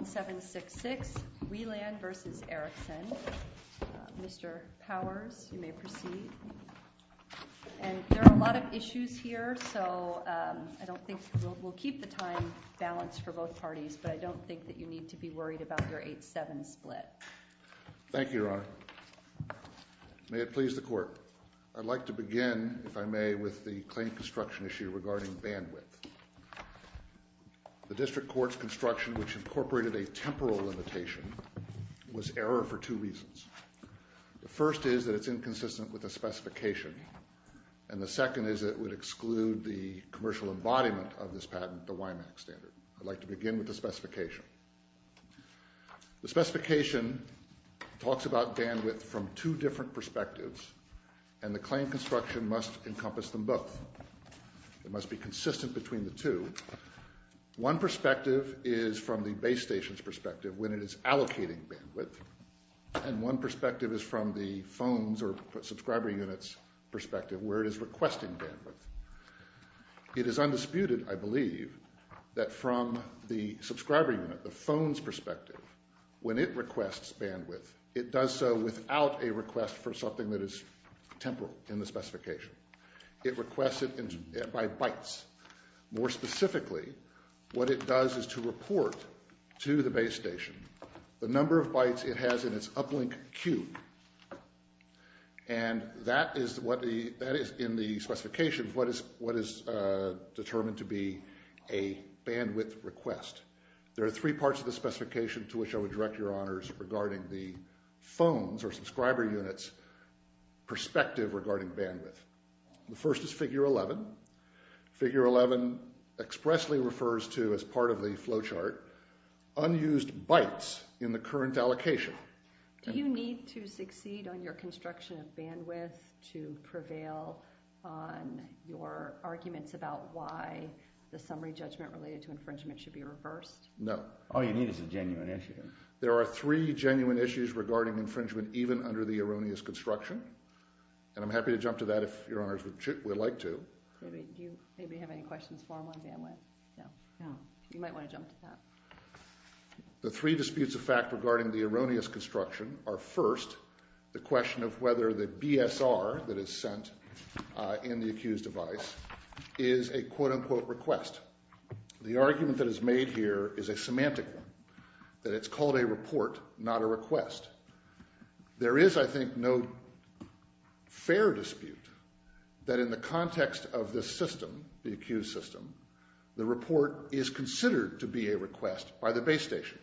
There are a lot of issues here, so I don't think we'll keep the time balanced for both parties, but I don't think that you need to be worried about your 8-7 split. Thank you, Your Honor. May it please the Court, I'd like to begin, if I may, with the claim construction issue regarding bandwidth. The District Court's construction, which incorporated a temporal limitation, was error for two reasons. The first is that it's inconsistent with the specification, and the second is it would exclude the commercial embodiment of this patent for Wyman Extended. I'd like to begin with the specification. The specification talks about bandwidth from two different perspectives, and the claim construction must encompass them both. It must be consistent between the two. One perspective is from the base station's perspective, when it is allocating bandwidth, and one perspective is from the phone's or subscriber unit's perspective, where it is requesting bandwidth. It is undisputed, I believe, that from the subscriber unit, the phone's perspective, when it requests bandwidth, it does so without a request for something that is temporal in the specification. It requests it by bytes. More specifically, what it does is to report to the base station the number of bytes it has in its uplink queue, and that is what the, that is in the specification, what is determined to be a bandwidth request. There are three parts of the specification to which I would direct Your Honors regarding the phone's or subscriber unit's perspective regarding bandwidth. The first is figure 11. Figure 11 expressly refers to, as part of the flow chart, unused bytes in the current allocation. Do you need to succeed on your construction of bandwidth to prevail on your arguments about why the summary judgment related to infringement should be reversed? No. All you need is a genuine answer here. There are three genuine issues regarding infringement even under the erroneous construction, and I'm happy to jump to that if Your Honors would like to. Do you maybe have any questions for him on bandwidth? No. You might want to jump to that. The three disputes of fact regarding the erroneous construction are, first, the question of whether the BSR that is sent in the accused device is a quote-unquote request. The argument that is made here is a semantic one, that it's called a report, not a request. There is, I think, no fair dispute that in the context of the system, the accused system, the report is considered to be a request by the base station.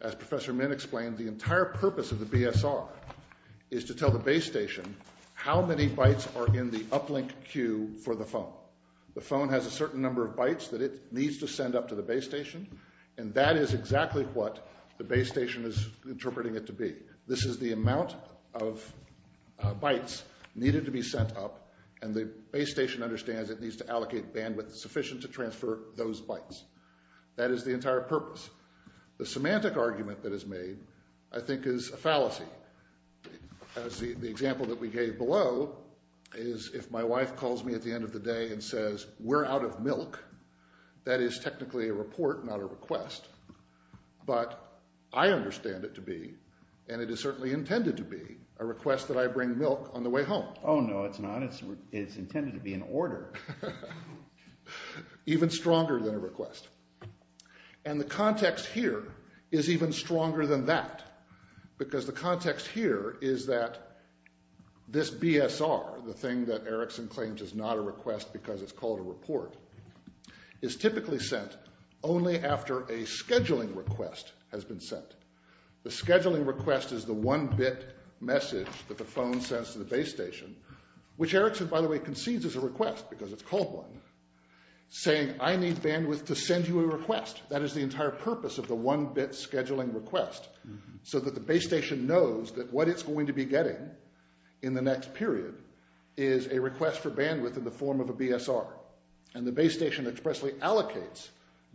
As Professor Min explained, the entire purpose of the BSR is to tell the base station how many bytes are in the uplink queue for the phone. The phone has a certain number of bytes that it needs to send up to the base station, and that is exactly what the base station is interpreting it to be. This is the amount of bytes needed to be sent up, and the base station understands it needs to allocate bandwidth sufficient to transfer those bytes. That is the entire purpose. The semantic argument that is made, I think, is a fallacy. The example that we gave below is if my wife calls me at the end of the day and says, we're out of milk, that is technically a report, not a request. But I understand it to be, and it is certainly intended to be, a request that I bring milk on the way home. Oh no, it's not. It's intended to be an order. Even stronger than a request. And the context here is even stronger than that, because the context here is that this BSR, the thing that Erickson claims is not a request because it's called a report, is typically sent only after a scheduling request has been sent. The scheduling request is the one-bit message that the phone sends to the base station, which Erickson, by the way, concedes is a request because it's called one, saying I need bandwidth to send you a request. That is the entire purpose of the one-bit scheduling request, so that the base station knows that what it's going to be getting in the next period is a request for BSR. And the base station expressly allocates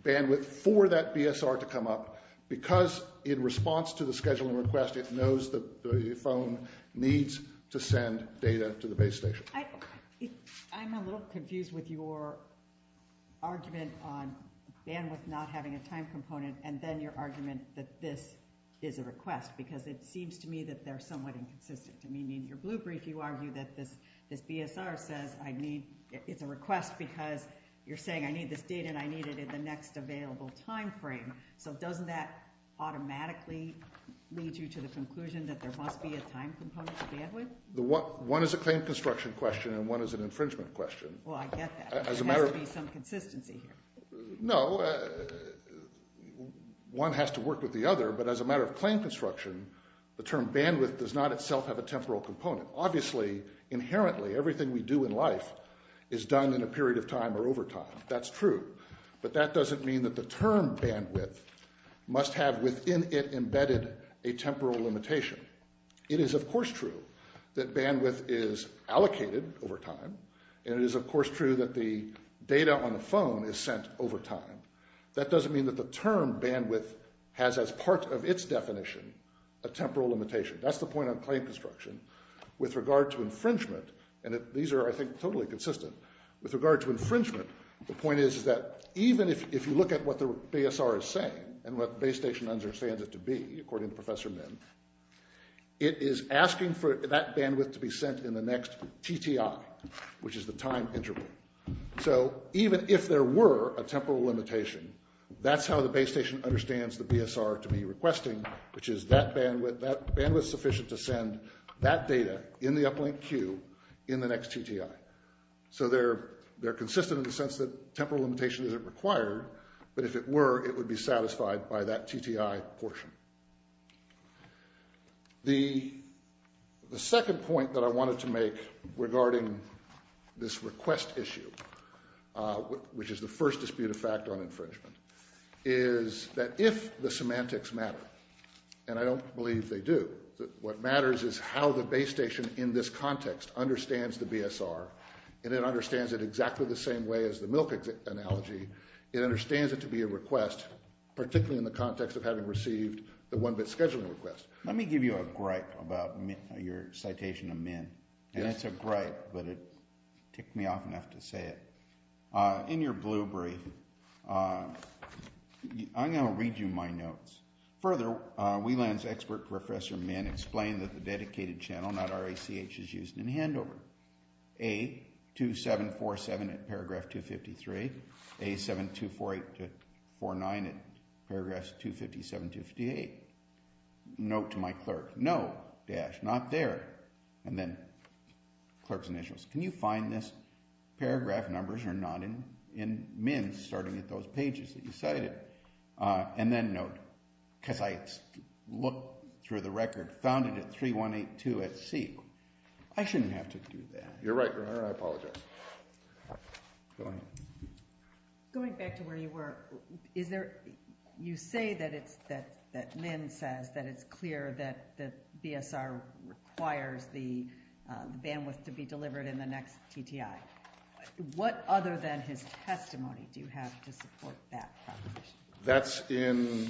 bandwidth for that BSR to come up, because in response to the scheduling request, it knows the phone needs to send data to the base station. I'm a little confused with your argument on bandwidth not having a time component, and then your argument that this is a request, because it seems to me that they're somewhat inconsistent. I mean, in a way, it's just because you're saying I need this data, and I need it in the next available time frame, but doesn't that automatically lead you to the conclusion that there must be a time component to bandwidth? One is a claim construction question, and one is an infringement question. Well, I get that. There has to be some consistency. No, one has to work with the other, but as a matter of claim construction, the term bandwidth does not itself have a temporal component. Obviously, inherently, everything we do in life is done in a period of time or over time. That's true, but that doesn't mean that the term bandwidth must have within it embedded a temporal limitation. It is, of course, true that bandwidth is allocated over time, and it is, of course, true that the data on the phone is sent over time. That doesn't mean that the term bandwidth has as part of its definition a temporal limitation. That's the point on claim construction. With regard to infringement, and these are, I think, totally consistent, with regard to infringement, the point is that even if you look at what the BSR is saying, and what the base station understands it to be, according to Professor Min, it is asking for that bandwidth to be sent in the next TTI, which is the time interval. So even if there were a temporal limitation, that's how the base station understands the BSR to be requesting, which is that bandwidth sufficient to send that data in the uplink queue in the next TTI. So they're consistent in the sense that temporal limitation isn't required, but if it were, it would be satisfied by that TTI portion. The second point that I wanted to make regarding this request issue, which is the first disputed factor on infringement, is that if the semantics matter, and I don't believe they do, what matters is how the base station in this context understands the BSR, and it understands it exactly the same way as the MILC analogy, it understands it to be a request, particularly in the context of having received the one-bit scheduling request. Let me give you a gripe about your citation of Min. It's a gripe, but it Further, WLAN's expert, Professor Min, explained that the dedicated channel, not RACH, is used in handover. A2747 in paragraph 253, A7248-49 in paragraph 257-58. Note to my clerk, no, dash, not there. And then clerk's initials. Can you find this end note? Because I looked through the record, found it at 3182SC. I shouldn't have to do that. You're right, I apologize. Going back to where you were, you say that Min says that it's clear that BSR requires the bandwidth to be delivered in the next TTI. What other than his testimony do you have to support that proposition?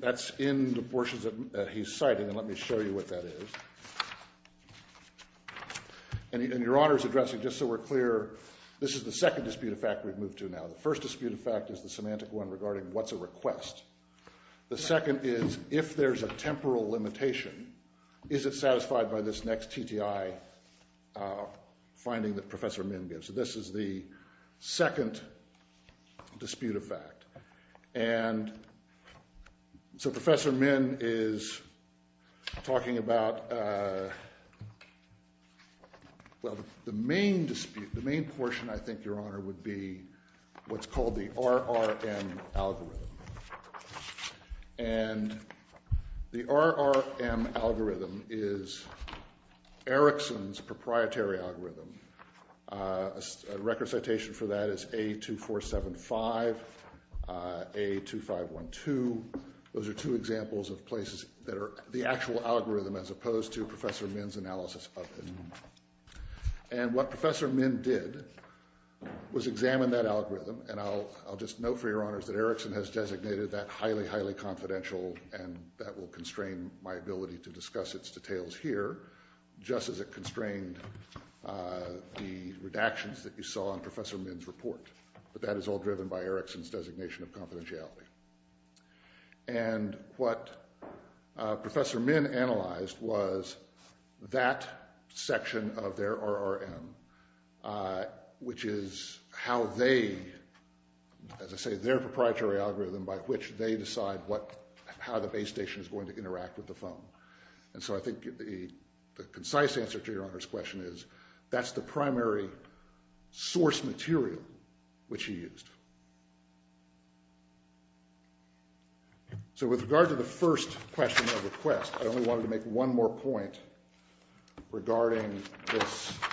That's in the portions that he's citing, and let me show you what that is. And your Honor's addressing, just so we're clear, this is the second disputed fact we've moved to now. The first disputed fact is the semantic one regarding what's a request. The second is, if there's a temporal limitation, is it satisfied by this next TTI finding that second disputed fact. And so Professor Min is talking about the main dispute, the main portion, I think, Your Honor, would be what's called the RRM algorithm. And the RRM algorithm is Erickson's proprietary algorithm. A record citation for that is A2475, A2512. Those are two examples of places that are the actual algorithm as opposed to Professor Min's analysis of it. And what Professor Min did was examine that algorithm, and I'll just note for Your Honor's that Erickson has designated that highly, highly confidential, and that will give us details here, just as it constrained the redactions that you saw in Professor Min's report. But that is all driven by Erickson's designation of confidentiality. And what Professor Min analyzed was that section of their RRM, which is how they, as I say, their proprietary algorithm by which they decide how the base station is going to interact with the phone. And so I think the concise answer to Your Honor's question is that's the primary source material which he used. So with regard to the first question of request, I only wanted to make one more point regarding the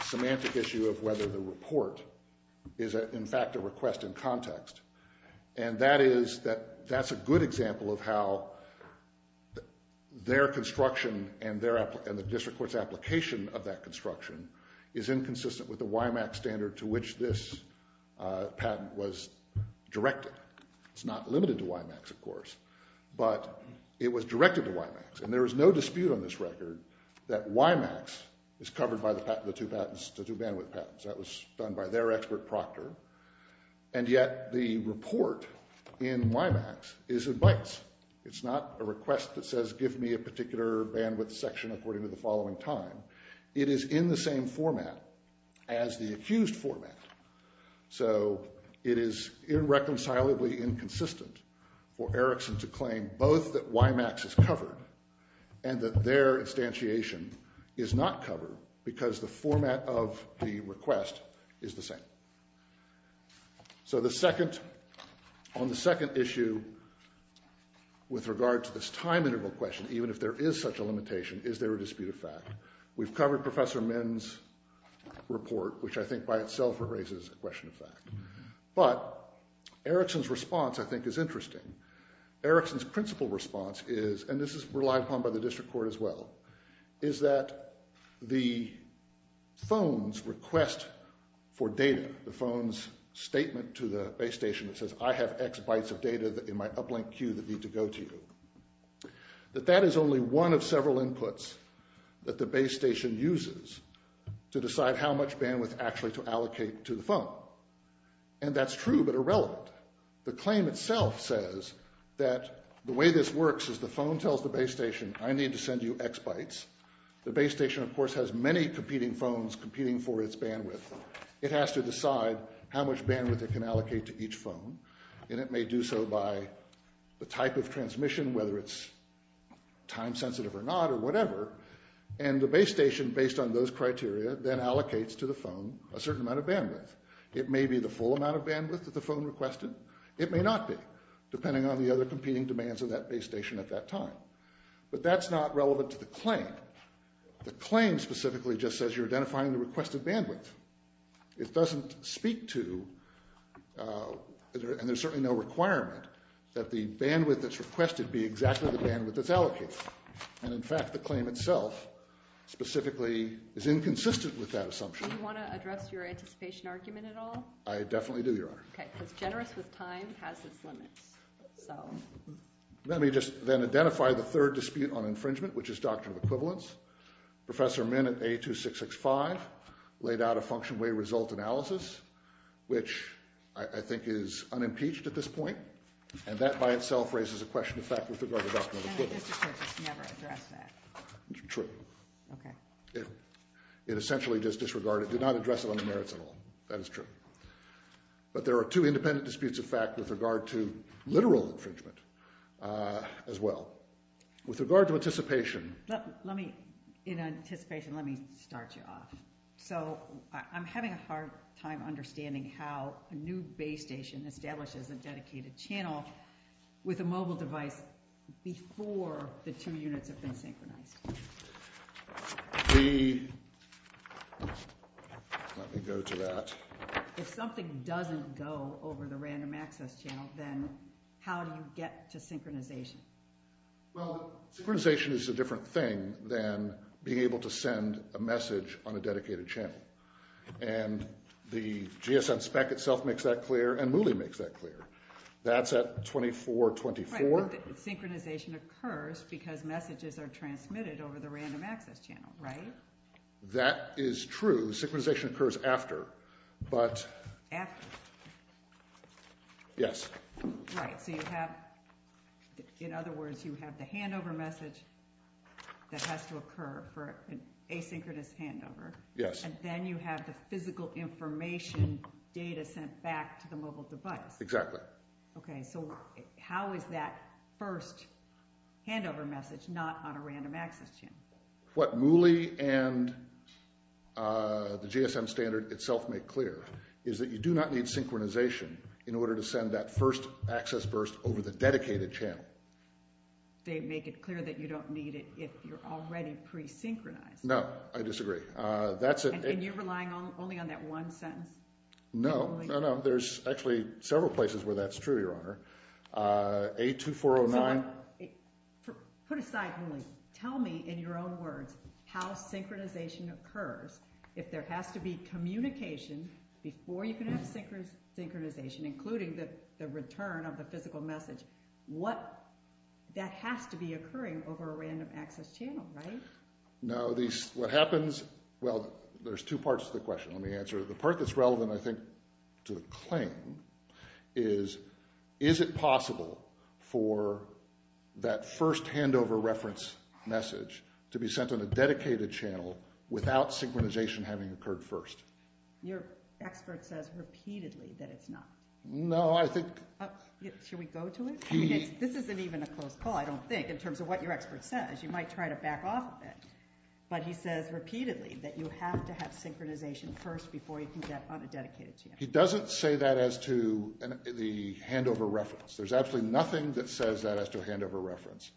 semantic issue of whether the report is in fact a request in context. And that is that that's a good example of how their construction and the district court's application of that construction is inconsistent with the WIMAX standard to which this patent was directed. It's not limited to WIMAX, of course, but it was directed to WIMAX. And there is no dispute on this record that WIMAX is covered by the patent of the And yet the report in WIMAX is in bytes. It's not a request that says give me a particular bandwidth section according to the following time. It is in the same format as the accused format. So it is irreconcilably inconsistent for Erickson to claim both that WIMAX is covered and that their instantiation is not covered because the format of the request is the same. So on the second issue, with regard to this time integral question, even if there is such a limitation, is there a dispute of fact? We've covered Professor Min's report, which I think by itself raises a question of fact. But Erickson's response I think is interesting. Erickson's principal response is, and this is relied upon by the district court as well, is that the phone's request for data, the phone's statement to the base station that says I have X bytes of data in my uplink queue that need to go to you, that that is only one of several inputs that the base station uses to decide how much bandwidth actually to allocate to the phone. And that's true, but irrelevant. The claim itself says that the way this works is the phone tells the base station I need to send you X bytes. The base station, of course, has many competing phones competing for its bandwidth. It has to decide how much bandwidth it can allocate to each phone, and it may do so by the type of transmission, whether it's time sensitive or not or whatever. And the base station, based on those criteria, then allocates to the phone a certain amount of bandwidth. It may be the full amount of bandwidth that the phone requested. It may not be, depending on the other competing demands of that base station at that time. But that's not relevant to the claim. The claim specifically just says you're identifying the requested bandwidth. It doesn't speak to, and there's certainly no requirement, that the bandwidth that's requested be exactly the bandwidth that's allocated. And in fact, the claim itself specifically is inconsistent with that assumption. Do you want to address your anticipation argument at all? I definitely do, Your Honor. Okay, so generous with time has its limit. Let me just then identify the third dispute on infringement, which is doctrine of equivalence. Professor Min at A2665 laid out a function-way result analysis, which I think is unimpeached at this point, and that by itself raises a question of fact with regard to doctrine of equivalence. I never addressed that. True. Okay. It essentially just disregarded, did not address it on the merits at all. That is true. But there are two independent disputes of fact with regard to literal infringement as well. With regard to anticipation… Justice, let me, in anticipation, let me start you off. So, I'm having a hard time understanding how a new base station establishes a dedicated channel with a mobile device before the two units have been synchronized. The… Let me go to that. If something doesn't go over the random access channel, then how do you get to synchronization? Well, synchronization is a different thing than being able to send a message on a dedicated channel. And the GSM spec itself makes that clear, and Muli makes that clear. That's at 2424. So, synchronization occurs because messages are transmitted over the random access channel, right? That is true. Synchronization occurs after, but… After? Yes. Right. So, you have, in other words, you have the handover message that has to occur for an asynchronous handover. Yes. And then you have the physical information data sent back to the mobile device. Exactly. Okay. So, how is that first handover message not on a random access channel? What Muli and the GSM standard itself make clear is that you do not need synchronization in order to send that first access burst over the dedicated channel. They make it clear that you don't need it if you're already pre-synchronized. No. I disagree. That's a… And you're relying only on that one sentence? No. No, no. There's actually several places where that's true, Your Honor. A2409… Put aside Muli. Tell me in your own words how synchronization occurs if there has to be communication before you can have synchronization, including the return of the physical message. What… That has to be occurring over a random access channel, right? No. These… What happens… Well, there's two parts to the question. Let me answer it. The part that's relevant, I think, to the claim is, is it possible for that first handover reference message to be sent on a dedicated channel without synchronization having occurred first? Your expert says repeatedly that it's not. No, I think… Should we go to it? This isn't even a closed call, I don't think, in terms of what your expert says. You might try to back off a bit. But he says repeatedly that you have to have synchronization first before you can get on a dedicated channel. He doesn't say that as to the handover reference. There's actually nothing that says that as to a handover reference.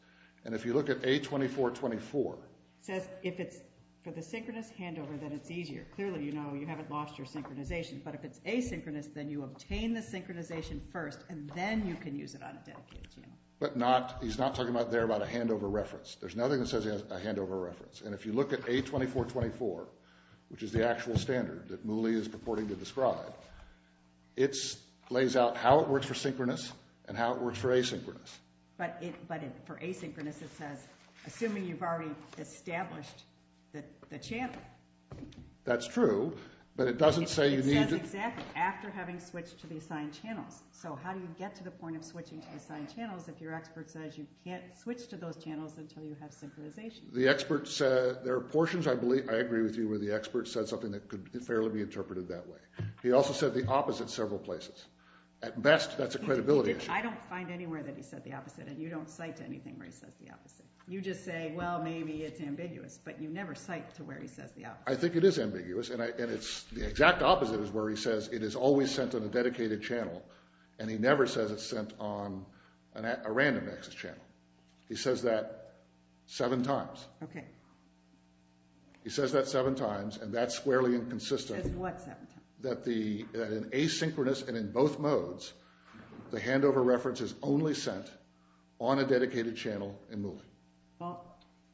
And if you look at A2424… It says if it's a synchronous handover, then it's easier. Clearly, you know, you haven't lost your synchronization. But if it's asynchronous, then you obtain the synchronization first, and then you can use it on a dedicated channel. But not… He's not talking there about a handover reference. There's nothing that says a handover reference. And if you look at A2424, which is the actual standard that Muli is purporting to describe, it lays out how it works for synchronous and how it works for asynchronous. But for asynchronous, it says, assuming you've already established the channel. That's true, but it doesn't say you need to… It says exactly, after having switched to the assigned channel. So how do you get to the point of switching to assigned channels if your expert says you can't switch to those channels until you have synchronization? The expert said… There are portions, I believe, I agree with you, where the expert said something that could fairly be interpreted that way. He also said the opposite several places. At best, that's a credibility issue. I don't find anywhere that he said the opposite, and you don't cite anything where he says the opposite. You just say, well, maybe it's ambiguous, but you never cite to where he says the opposite. I think it is ambiguous, and it's… The exact opposite is where he says it is always sent on a dedicated channel, and he never says it's sent on a random access channel. He says that seven times. Okay. He says that seven times, and that's squarely inconsistent. That's what seven times. That in asynchronous and in both modes, the handover reference is only sent on a dedicated channel and moving. Well,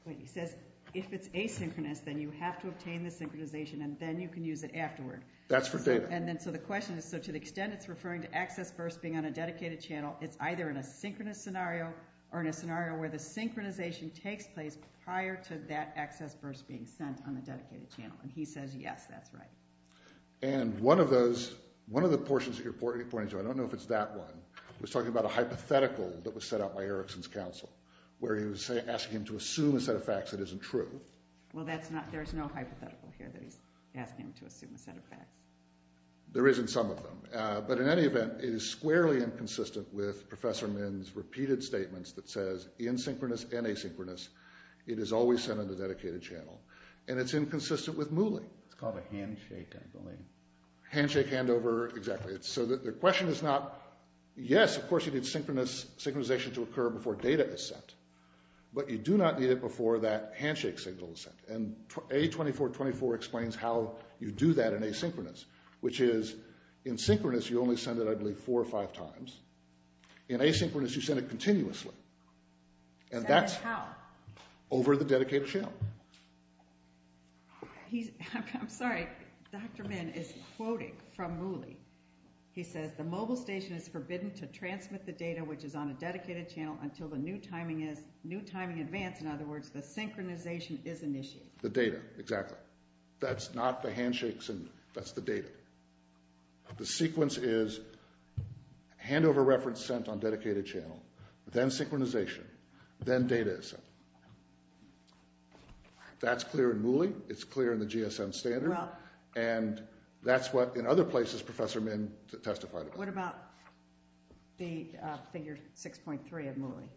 he says if it's asynchronous, then you have to obtain the synchronization, and then you can use it afterward. That's for data. The question is, to the extent it's referring to access first being on a dedicated channel, it's either in a synchronous scenario or in a scenario where the synchronization takes place prior to that access first being sent on a dedicated channel. He says, yes, that's right. One of the portions of your point, I don't know if it's that one, was talking about a hypothetical that was set up by Erickson's counsel, where he was asking him to assume a set of facts that isn't true. Well, there's no hypothetical here that he's asking him to assume a set of facts. There isn't some of them. But in any event, it is squarely inconsistent with Professor Min's repeated statements that says, in synchronous and asynchronous, it is always sent on a dedicated channel. And it's inconsistent with moving. It's called a handshake, I believe. Handshake handover, exactly. So the question is not, yes, of course, you need synchronization to occur before data is sent, but you do not need it before that handshake signal is sent. And A2424 explains how you do that in asynchronous, which is, in synchronous, you only send it, I believe, four or five times. In asynchronous, you send it continuously. And that's over the dedicated channel. I'm sorry. Dr. Min is quoting from Mooley. He says, the mobile station is forbidden to transmit the data which is on a dedicated channel until the new timing is advanced. In other words, the synchronization is initiated. The data, exactly. That's not the handshake signal. That's the data. The sequence is handover reference sent on dedicated channel, then synchronization, then data is sent. That's clear in Mooley. It's clear in the GSM standard. And that's what, in other places, Professor Min testified about. What about the figure 6.3 of Mooley,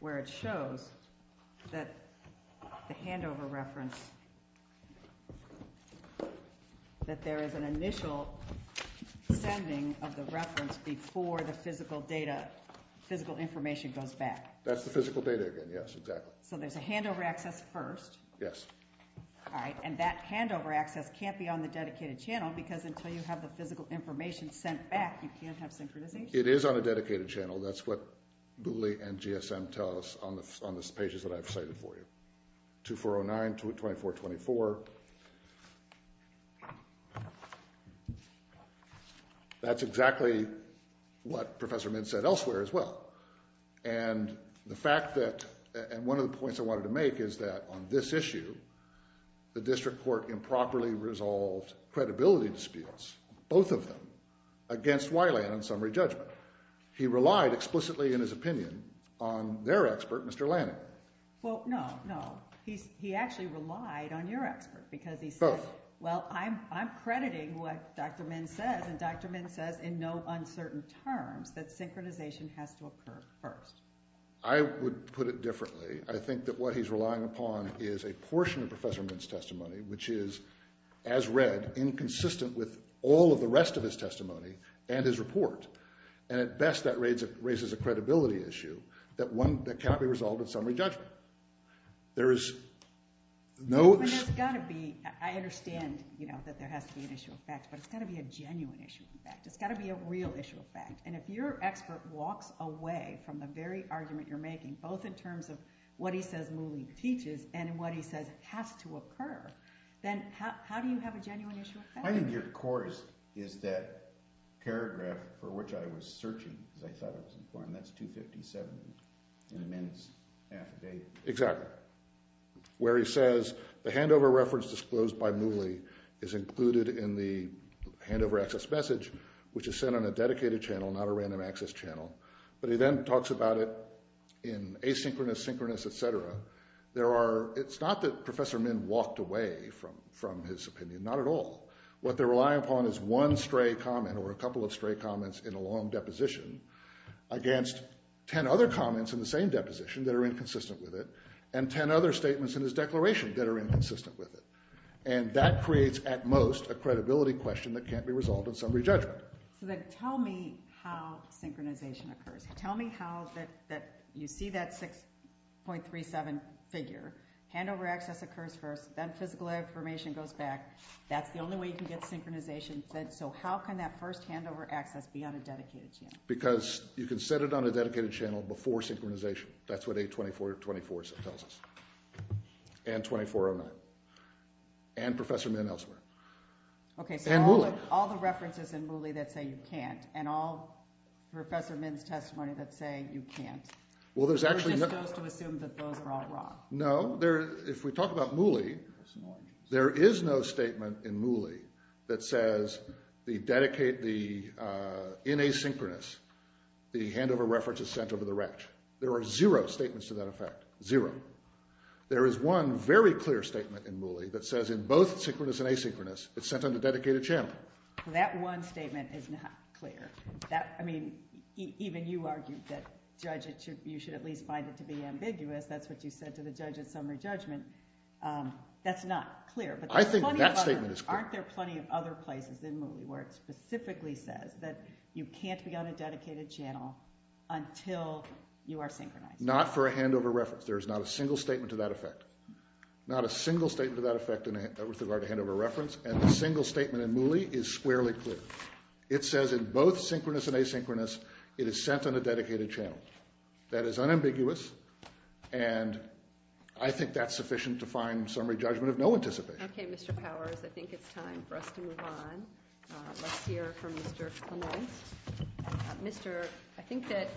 where it shows that the handover reference, that there is an initial sending of the reference before the physical data, physical information goes back. That's the physical data again, yes, exactly. So there's a handover access first. Yes. All right. And that handover access can't be on the dedicated channel, because until you have the physical information sent back, you can't have synchronization. It is on a dedicated channel. That's what Mooley and GSM tell us on the pages that I've cited for you. 2409, 2424. That's exactly what Professor Min said elsewhere as well. And the fact that, and one of the points I wanted to make is that on this issue, the district court improperly resolved credibility disputes, both of them, against Wiley on summary judgment. He relied explicitly, in his opinion, on their expert, Mr. Lanning. Well, no, no. He actually relied on your expert, because he said, well, I'm crediting what Dr. Min said, and Dr. Min said in no uncertain terms that synchronization has to occur first. I would put it differently. I think that what he's relying upon is a portion of Professor Min's testimony, which is, as read, inconsistent with all of the rest of his testimony and his report. And at best, that raises a credibility issue that can't be resolved with summary judgment. There is no... And there's got to be, I understand that there has to be an issue of fact, but it's got to be a genuine issue of fact. It's got to be a real issue of fact. And if your expert walks away from the very argument you're making, both in terms of what he says Muley teaches and what he says has to occur, then how do you have a genuine issue of fact? My idea, of course, is that paragraph for which I was searching, and I thought it was important, that's 257, and then it's half a day. Exactly. Where he says, the handover reference disclosed by Muley is included in the handover access message, which is sent on a dedicated channel, not a random access channel. But he then talks about it in asynchronous, synchronous, etc. It's not that Professor Min walked away from his opinion. Not at all. What they're relying upon is one stray comment or a couple of stray comments in a long deposition against ten other comments in the same deposition that are inconsistent with it and ten other statements in his declaration that are inconsistent with it. And that creates, at most, a credibility question that can't be resolved in summary judgment. So tell me how synchronization occurs. Tell me how you see that 6.37 figure. Handover access occurs first, then physical information goes back. That's the only way you can get synchronization. So how can that first handover access be on a dedicated channel? Because you can set it on a dedicated channel before synchronization. That's what 824.24 tells us. And 24.09. And Professor Min elsewhere. And Muley. All the references in Muley that say you can't. And all Professor Min's testimonies that say you can't. Well, there's actually... You can also assume that those are all wrong. No. If we talk about Muley, there is no statement in Muley that says in asynchronous, the handover reference is sent over the rack. There are zero statements to that effect. Zero. There is one very clear statement in Muley that says in both synchronous and asynchronous, it's sent on a dedicated channel. So that one statement is not clear. I mean, even you argued that judges, you should at least find it to be ambiguous. That's what you said to the judges on their judgment. That's not clear. I think that statement is clear. Aren't there plenty of other places in Muley where it specifically says that you can't be on a dedicated channel until you are synchronized? Not for a handover reference. There's not a single statement to that effect. Not a single statement to that effect with regard to handover reference. And a single statement in Muley is squarely clear. It says in both synchronous and asynchronous, it is sent on a dedicated channel. That is unambiguous, and I think that's sufficient to find summary judgment of no anticipation. Okay, Mr. Powers. I think it's time for us to move on. Let's hear from Mr. Kuhn. Mr. I think that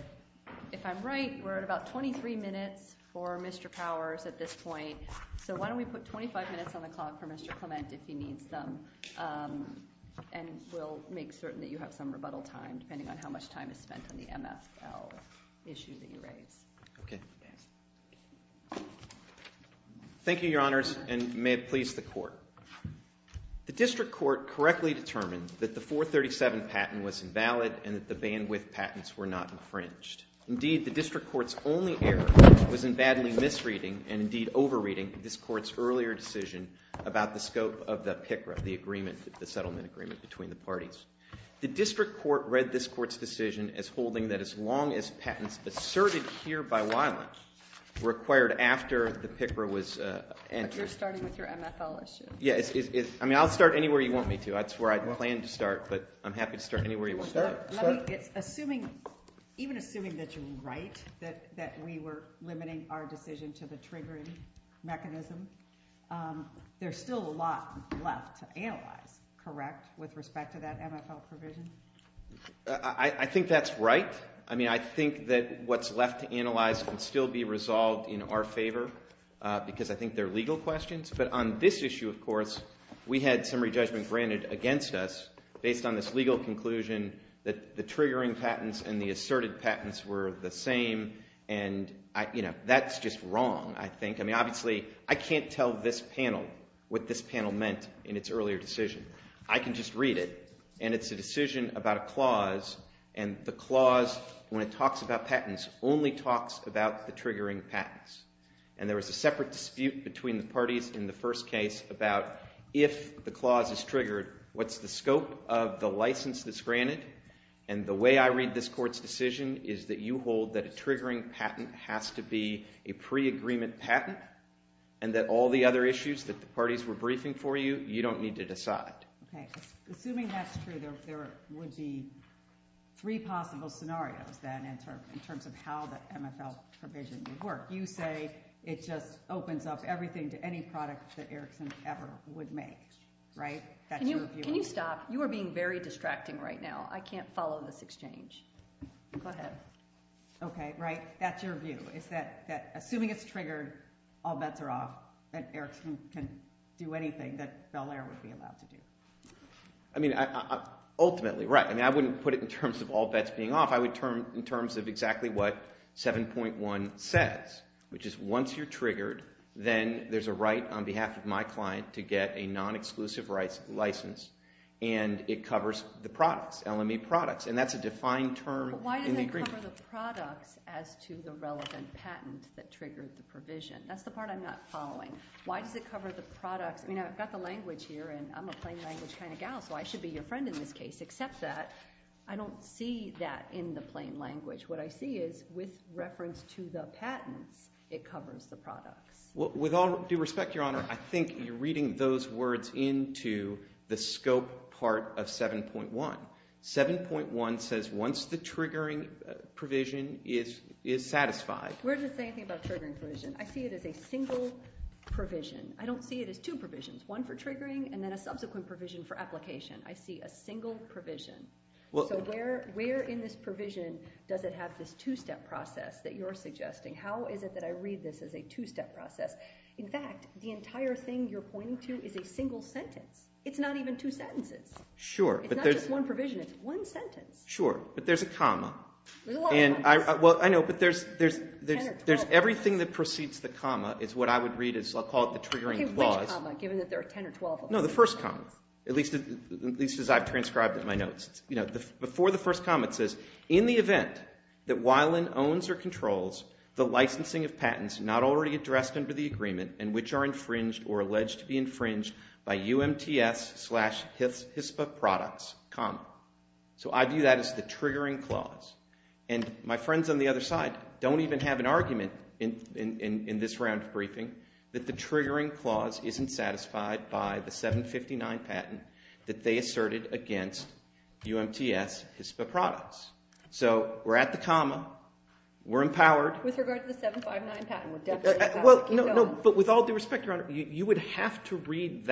if I'm right, we're at about 23 minutes for Mr. Powers at this point. So why don't we put 25 minutes on the clock for Mr. Clement if he needs some, and we'll make certain that you have some rebuttal time depending on how much time is spent on the MSL issue that you raised. Okay. Thank you, Your Honors, and may it please the Court. The District Court correctly determined that the 437 patent was invalid and that the bandwidth patents were not infringed. Indeed, the District Court's only error was invalid misreading and indeed over-reading this Court's earlier decision about the scope of the PICRA, the settlement agreement between the parties. The District Court read this Court's decision as holding that as long as patents asserted here by liners were acquired after the PICRA was answered... You're starting with your MSL issue. Yeah. I mean, I'll start anywhere you want me to. I swear I planned to start, but I'm happy to start anywhere you want me to. Let me get... Even assuming that you're right that we were limiting our decision to the triggering mechanism, there's still a lot left to analyze, correct, with respect to that MSL provision? I think that's right. I mean, I think that what's left to analyze can still be resolved in our favor because I think they're legal questions, but on this issue, of course, we had summary judgment granted against us based on this legal conclusion that the triggering patents and the asserted patents were the same, and that's just wrong, I think. I mean, obviously, I can't tell this panel what this panel meant in its earlier decision. I can just read it, and it's a decision about a clause, and the clause, when it talks about patents, only talks about the triggering patents, and there was a separate dispute between the parties in the first case about if the clause is triggered, what's the scope of the license that's granted, and the way I read this court's decision is that you hold that a triggering patent has to be a pre-agreement patent, and that all the other issues that the parties were briefing for you, you don't need to decide. Assuming that's true, there would be three possible scenarios, then, in terms of how the MSL provision would work. You say it just opens up everything to any product that Erickson ever would make, right? Can you stop? You are being very distracting right now. I can't follow this exchange. Go ahead. Okay, right. That's your view. Assuming it's triggered, all bets are off, and Erickson can do anything that Belair would be allowed to do. Ultimately, right. I wouldn't put it in terms of all bets being off. I would put it in terms of exactly what 7.1 says, which is once you're triggered, then there's a right on behalf of my client to get a non-exclusive license, and it covers the products, LME products, and that's a defined term in the agreement. Why does it cover the products as to the relevant patent that triggers the provision? That's the part I'm not following. Why does it cover the products? I've got the language here, and I'm a plain language kind of gal, so I should be your friend in this case. Except that, I don't see that in the plain language. What I see is, with reference to the patent, it covers the product. With all due respect, Your Honor, I think you're reading those words into the scope part of 7.1. 7.1 says once the triggering provision is satisfied. Where does it say anything about triggering provision? I see it as a single provision. I don't see it as two provisions. One for triggering, and then a subsequent provision for application. I see a single provision. Where in this provision does it have this two-step process that you're suggesting? How is it that I read this as a two-step process? In fact, the entire thing you're pointing to is a single sentence. It's not even two sentences. It's not just one provision. It's one sentence. Sure, but there's a comma. I know, but there's everything that precedes the comma is what I would read as triggering clause. No, the first comma. At least as I've transcribed in my notes. Before the first comma, it says in the event that Wylan owns or controls the licensing of patents not already addressed under the agreement and which are infringed or alleged to be infringed by UMTS slash HIPAA products comma. I view that as the triggering clause. My friends on the other side don't even have an argument in this round of briefing that the triggering clause isn't satisfied by the 759 patent that they asserted against UMTS HIPAA products. We're at the comma. We're empowered. With all due respect, Your Honor, you would have to read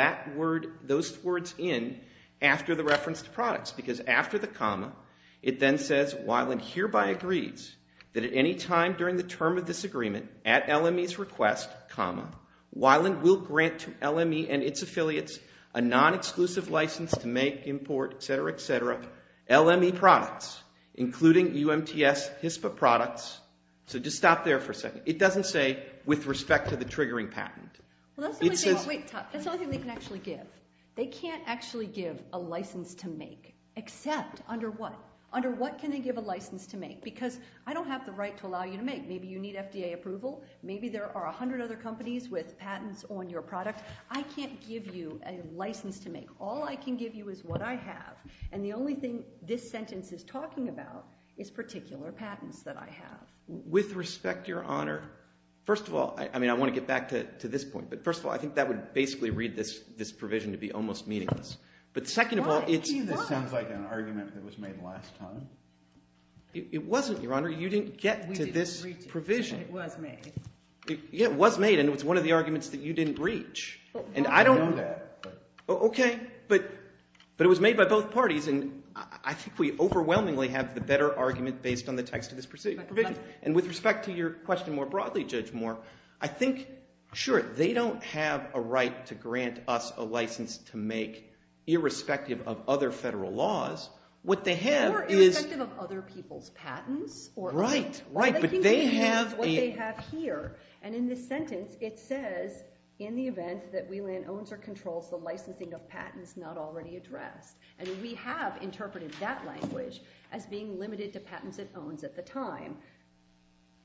those words in after the reference to products because after the comma, it then says Wylan hereby agrees that at any time during the term of this agreement, at LME's request comma, Wylan will grant to LME and its affiliates a non-exclusive license to make, import, etc., etc., LME products, including UMTS HIPAA products. So just stop there for a second. It doesn't say with respect to the triggering patent. Well, that's the only thing they can actually give. They can't actually give a license to make except under what? Under what can they give a license to make? Because I don't have the right to allow you to make. Maybe you need FDA approval. Maybe there are a hundred other companies with patents on your product. I can't give you a license to make. All I can give you is what I have and the only thing this sentence is talking about is particular patents that I have. With respect, Your Honor, first of all, I mean I want to get back to this point but first of all, I think that would basically read this provision to be almost meaningless. But second of all, it sounds like an argument that was made last time. It wasn't, Your Honor. You didn't get to this provision. It was made. Yeah, it was made and it was one of the arguments that you didn't reach. Okay, but it was made by both parties and I think we overwhelmingly have the better argument based on the text of this provision. And with respect to your question more broadly, Judge Moore, I think sure, they don't have a right to grant us a license to make irrespective of other federal laws. What they have is Irrespective of other people's patents? Right, right, but they have what they have here and in this sentence it says in the event that we land owns or controls the licensing of patents not already addressed. And we have interpreted that language as being limited to patents it owns at the time.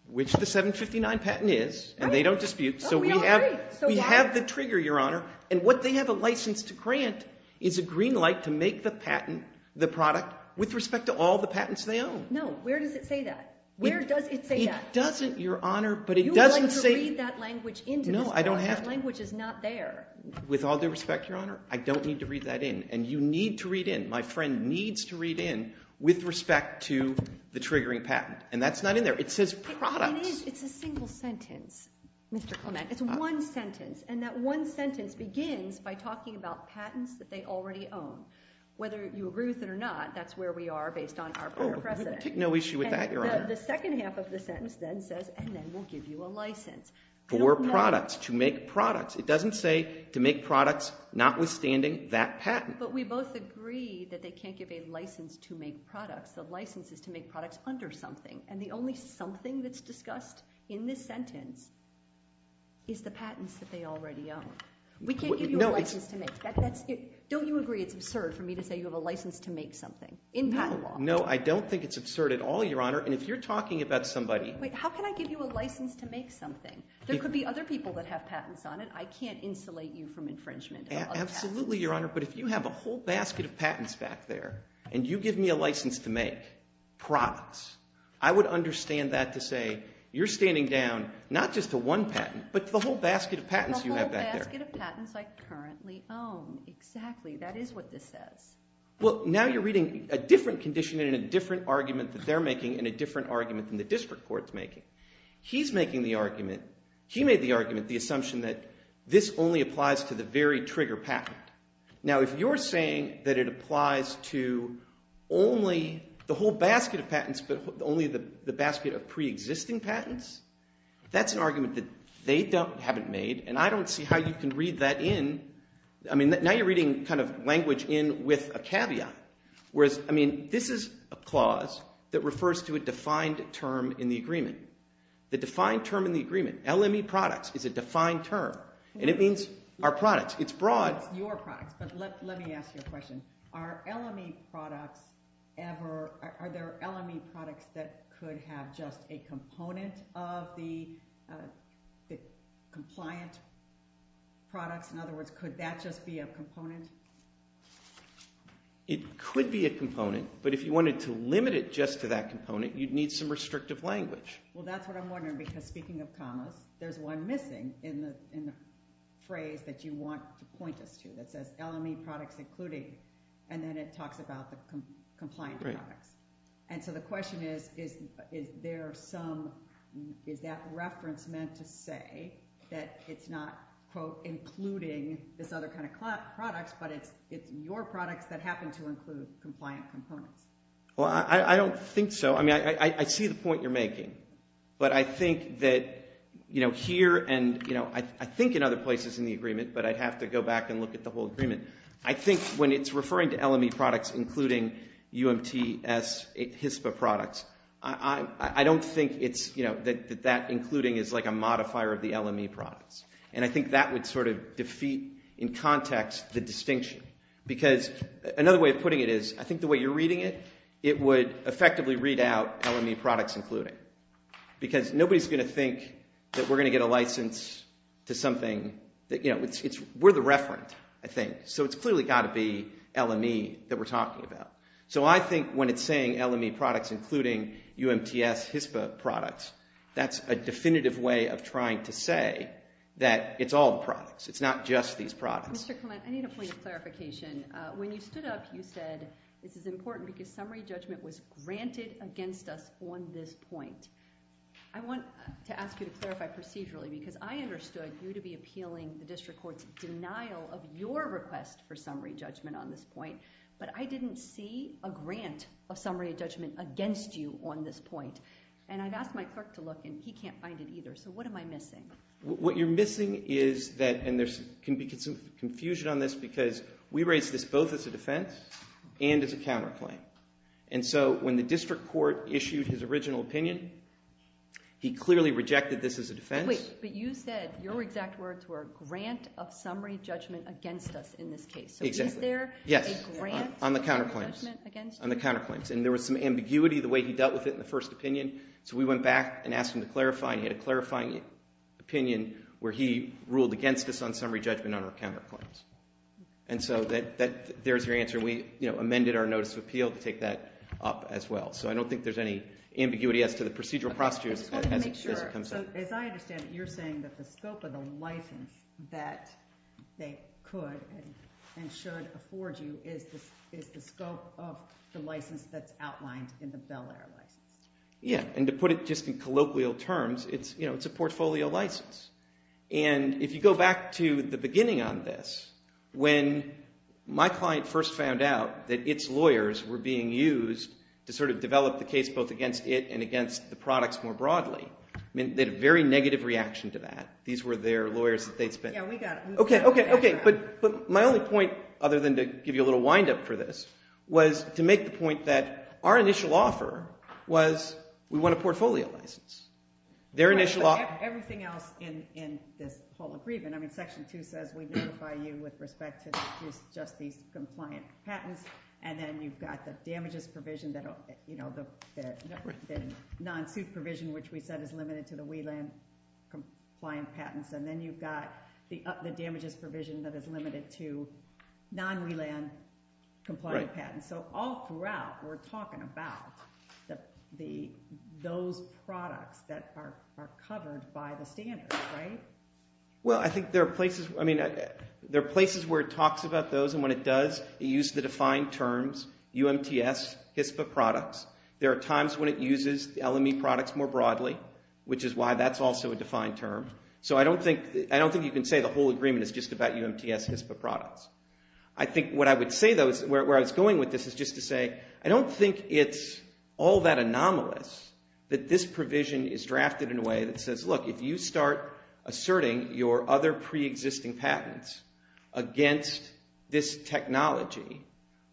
Which the 759 patent is and they don't dispute so we have the trigger, Your Honor, and what they have a license to grant is a green light to make the patent the product with respect to all the patents they own. No, where does it say that? Where does it say that? It doesn't, Your Honor, but it doesn't say... You would like to read that language No, I don't have to. That language is not there. With all due respect, Your Honor, I don't need to read that in. And you need to read in. My friend needs to read in with respect to the triggering patent. And that's not in there. It says product. It's a single sentence. It's one sentence. And that one sentence begins by talking about patents that they already own. Whether you approve it or not that's where we are based on our fair process. No issue with that, Your Honor. The second half of the sentence then says and then we'll give you a license for products, to make products. It doesn't say to make products notwithstanding that patent. But we both agree that they can't give a license to make products. The license is to make products under something. And the only something that's discussed in this sentence is the patents that they already own. We can't give you a license to make. Don't you agree it's absurd for me to say you have a license to make something in patent law? No, I don't think it's absurd at all, Your Honor. And if you're talking about somebody How can I give you a license to make something? There could be other people that have patents on it. I can't insulate you from infringement. Absolutely, Your Honor. But if you have a whole basket of patents back there and you give me a license to make products, I would understand that to say you're standing down not just to one patent, but to the whole basket of patents you have back there. A whole basket of patents I currently own. Exactly. That is what this says. Well, now you're reading a different condition and a different argument that they're making and a different argument that the district court's making. He's making the argument He made the argument, the assumption that this only applies to the very trigger patent. Now, if you're saying that it applies to only the whole basket of patents, but only the basket of pre-existing patents that's an argument that they haven't made, and I don't see how you can read that in. I mean, now you're reading kind of language in with a caveat. Whereas, I mean, this is a clause that refers to a defined term in the agreement. The defined term in the agreement, LME products, is a defined term. And it means our products. It's broad. Your products, but let me ask you a question. Are LME products ever, are there LME products that could have just a component of the compliant product? In other words, could that just be a component? It could be a component, but if you wanted to limit it just to that component, you'd need some restrictive language. Well, that's what I'm wondering, because speaking of commas, there's one missing in the phrase that you want to point us to that says, LME products including and then it talks about the compliant product. And so the question is, is there some, is that reference meant to say that it's not, quote, including this other kind of product, but it's your products that happen to include compliant components? Well, I don't think so. I mean, I see the point you're making. But I think that, you know, here and, you know, I think in other places in the agreement, but I'd have to go back and look at the whole agreement. I think when it's referring to LME products, including UMTS HIPAA products, I don't think it's, you know, that that including is like a modifier of the LME products. And I think that would sort of defeat in context the distinction because another way of putting it is I think the way you're reading it, it would effectively read out LME products including because nobody's going to think that we're going to get a license to something that, you know, we're the reference, I think. So it's clearly got to be LME that we're talking about. So I think when it's saying LME products including UMTS HIPAA products, that's a definitive way of trying to say that it's all products. It's not just these products. Mr. Clement, I need a point of clarification. When you stood up, you said this is important because summary judgment was granted against us on this point. I want to ask you to clarify procedurally because I understood you to be appealing the district court's denial of your request for summary judgment on this point, but I didn't see a grant of summary judgment against you on this point. And I got my look and he can't find it either. So what am I missing? What you're missing is that, and there's confusion on this because we raised this both as a defense and as a counterclaim. And so when the district court issued his original opinion, he clearly rejected this as a defense. Wait, but you said your exact words were a grant of summary judgment against us in this case. Exactly. So is there a grant of summary judgment against you? Yes, on the counterclaims. And there was some ambiguity the way he dealt with it in the first opinion. So we went back and asked him to clarify, and he had a clarifying opinion where he ruled against us on summary judgment on our counterclaims. And so there's your answer. We amended our notice of appeal to take that up as well. So I don't think there's any ambiguity as to the procedural procedure as it comes up. As I understand it, you're saying that the scope of a license that they could and should afford you is the scope of the license that's outlined in the Bel Air license. Yeah, and to put it just in colloquial terms, it's a portfolio license. And if you go back to the beginning on this, when my client first found out that its lawyers were being used to sort of develop the case both against it and against the products more broadly, they had a very negative reaction to that. These were their lawyers that they'd spent... Okay, okay, but my only point other than to give you a little wind-up for this was to make the point that our initial offer was we want a portfolio license. Their initial offer... Everything else in this whole agreement, Section 2 says we justify you with respect to just the compliant patents, and then you've got the damages provision that the non-proof provision, which we said is limited to the WLAN compliant patents, and then you've got the damages provision that is limited to non-WLAN compliant patents. So all throughout we're talking about those products that are covered by the standards, right? Well, I think there are places where it talks about those, and when it does, it uses the defined terms UMTS, HSPA products. There are times when it uses L&E products more broadly, which is why that's also a defined term. So I don't think you can say the whole agreement is just about UMTS, HSPA products. I think what I would say though, where I was going with this, is just to say I don't think it's all that anomalous that this provision is drafted in a way that says, look, if you start asserting your other pre-existing patents against this technology,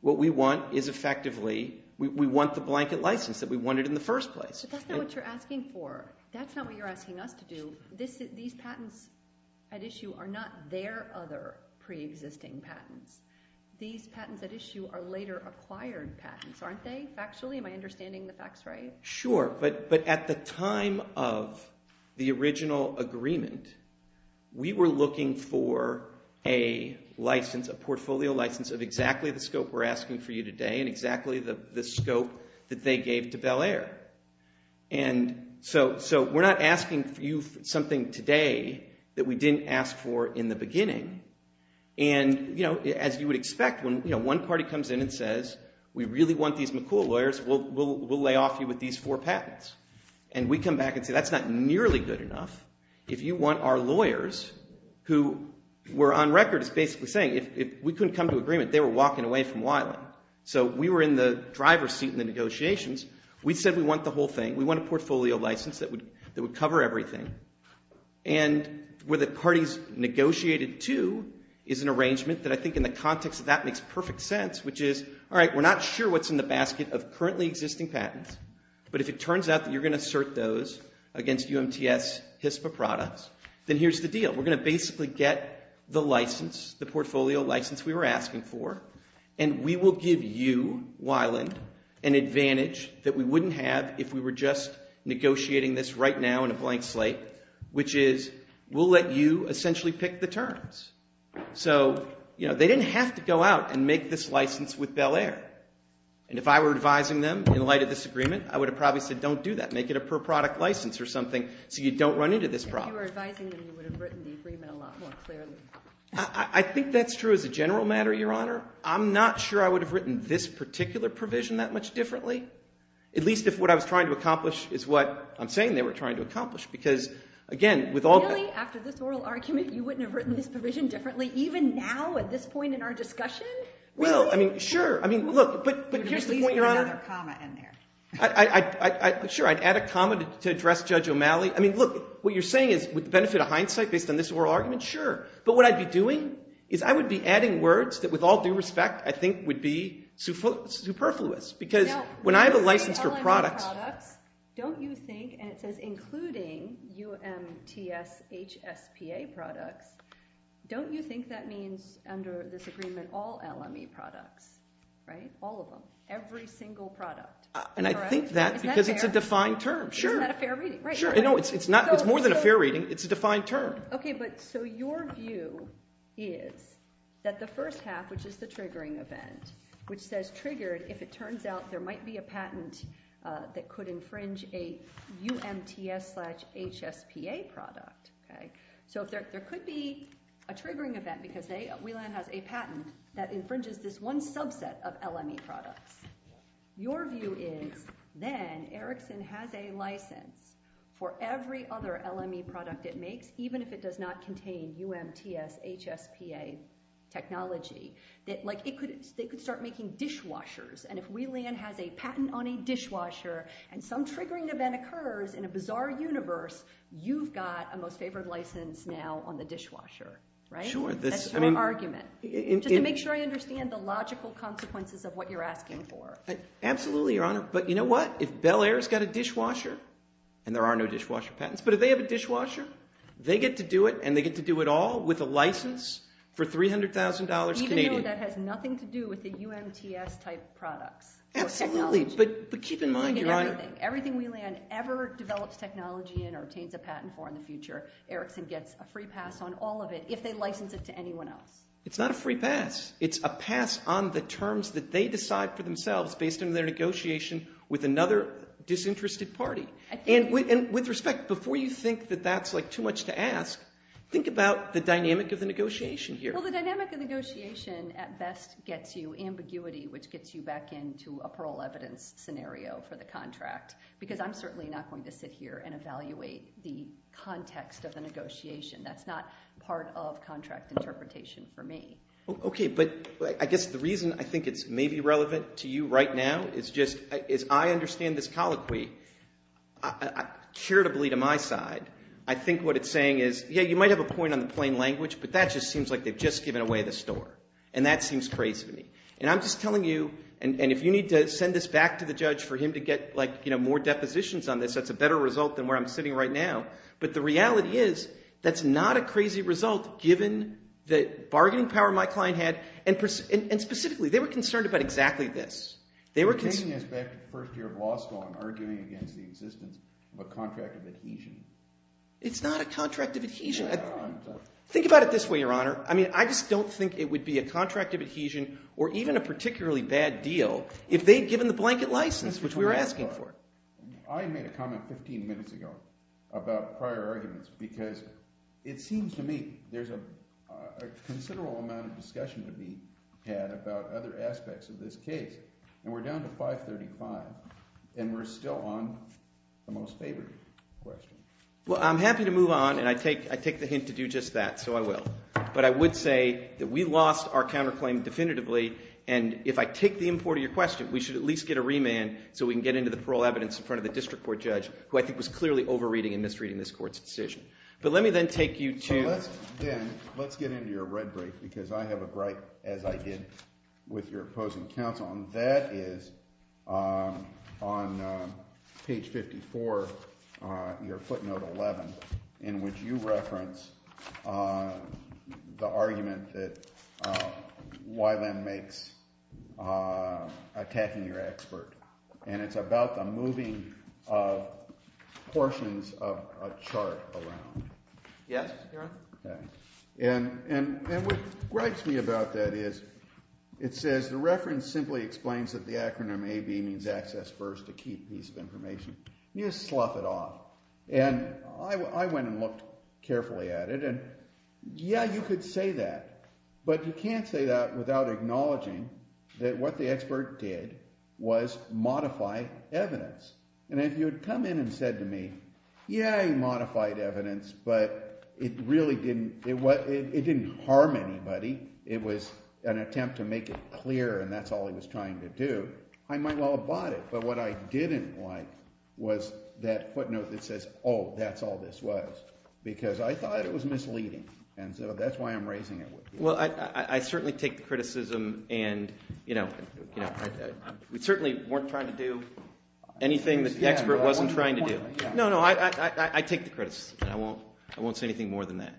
what we want is effectively, we want the blanket license that we wanted in the first place. But that's not what you're asking for. That's not what you're asking us to do. These patents at issue are not their other pre-existing patents. These patents at issue are later acquired patents, aren't they, actually? Am I understanding the facts right? Sure, but at the time of the original agreement, we were looking for a license, a portfolio license of exactly the scope we're asking for you today, and exactly the scope that they gave to Bel Air. And so we're not asking you something today that we didn't ask for in the beginning. And, you know, as you would expect when one party comes in and says we really want these McCool lawyers, we'll lay off you with these four patents. And we come back and say that's not nearly good enough. If you want our lawyers, who were on record as basically saying if we couldn't come to agreement, they were walking away from Wiley. So we were in the driver's seat in the negotiations. We said we want the whole thing. We want a portfolio license that would cover everything. And what the parties negotiated to is an arrangement that I think in the context of that makes perfect sense, which is, alright, we're not sure what's in the basket of currently existing patents, but if it turns out that you're going to assert those against UMTS HIPAA products, then here's the deal. We're going to basically get the license, the portfolio license we were asking for, and we will give you, Wiley, an advantage that we wouldn't have if we were just negotiating this right now in a blank slate, which is we'll let you essentially pick the terms. So they didn't have to go out and make this license with Bel Air. And if I were advising them in light of this agreement, I would have probably said don't do that. Make it a per product license or something so you don't run into this problem. If you were advising them, you would have written the agreement a lot more clearly. I think that's true as a general matter, Your Honor. I'm not sure I would have written this particular provision that much differently, at least if what I was trying to accomplish is what I'm saying they were trying to accomplish, because again, with all that... You wouldn't have written this provision differently even now at this point in our discussion? Well, I mean, sure. I mean, look, but here's the point, Your Honor. Sure, I'd add a comma to address Judge O'Malley. I mean, look, what you're saying is it would benefit a hindsight based on this oral argument? Sure. But what I'd be doing is I would be adding words that with all due respect I think would be superfluous, because when I have a license for products... Don't you think, and it says including UMTS HSPA products, don't you think that means under this agreement all LME products, right? All of them. Every single product. And I think that because it's a defined term. Sure. Isn't that a fair reading? Sure. It's more than a fair reading. It's a defined term. Okay, but so your view is that the first half, which is the triggering event, which says triggered, if it turns out there might be a patent that could infringe a UMTS slash HSPA product. Okay? So there could be a triggering event because we learned that's a patent that infringes this one subset of LME products. Your view is then Erickson has a license for every other LME product it makes, even if it does not contain UMTS HSPA technology. They could start making dishwashers. And if WLAN has a patent on a dishwasher and some triggering event occurs in a bizarre universe, you've got a most favored license now on the dishwasher. Right? That's your argument. Just to make sure I understand the logical consequences of what you're asking for. Absolutely, Your Honor. But you know what? If Bel Air's got a dishwasher and there are no dishwasher patents, but if they have a dishwasher, they get to do it and they get to do it all with a license for $300,000 Canadian. Even if that has nothing to do with a UMTS type product. But keep in mind, Your Honor. If everything WLAN ever develops technology in or obtains a patent for in the future, Erickson gets a free pass on all of it if they license it to anyone else. It's not a free pass. It's a pass on the terms that they decide for themselves based on their negotiation with another disinterested party. And with respect, before you think that that's too much to ask, think about the dynamic of the negotiation here. Well, the dynamic of the negotiation at best gets you ambiguity which gets you back into a parole evidence scenario for the contract because I'm certainly not going to sit here and evaluate the context of the negotiation. That's not part of contract interpretation for me. Okay, but I guess the reason I think it may be relevant to you right now is I understand this colloquy irritably to my side. I think what it's saying is, yeah, you might have a point on the plain language, but that just seems like they've just given away the store. And that seems crazy to me. And I'm just telling you, and if you need to send this back to the judge for him to get more depositions on this, that's a better result than where I'm sitting right now. But the reality is, that's not a crazy result given the bargaining power my client had, and specifically, they were concerned about exactly this. They were taking this back to the first year of law school and arguing against the existence of a contract of adhesion. It's not a contract of adhesion. Think about it this way, Your Honor. I mean, I just don't think it would be a contract of adhesion or even a particularly bad deal if they'd given the blanket license, which we were asking for. I made a comment 15 minutes ago about prior arguments because it seems to me there's a considerable amount of discussion to be had about other aspects of this case. And we're down to 535 and we're still on the most favored question. Well, I'm happy to move on, and I take the hint to do just that, so I will. But I would say that we lost our counterclaim definitively, and if I take the import of your question, we should at least get a remand so we can get into the parole evidence in front of the district court judge, who I think was clearly over-reading and misreading this court's decision. But let me then take you to... Let's get into your red brief, because I have a gripe, as I did with your opposing counsel, and that is on page 54 your footnote 11 in which you reference the argument that Wyvend makes attacking your expert. And it's about the moving portions of a chart around. Yes, Your Honor. And what gripes me about that is it says the reference simply explains that the acronym AB means access first, a key piece of information. You just slough it off. And I went and looked carefully at it, and yeah, you could say that, but you can't say that without acknowledging that what the expert did was modify evidence. And if you had come in and said to me, yeah, you modified evidence, but it really didn't harm anybody. It was an attempt to make it clear, and that's all it was trying to do, I might well have bought it. But what I didn't like was that footnote that says, oh, that's all this was. Because I thought it was misleading. And so that's why I'm raising it with you. Well, I certainly take the criticism, and you know, we certainly weren't trying to do anything that the expert wasn't trying to do. No, no, I take the criticism. I won't say anything more than that.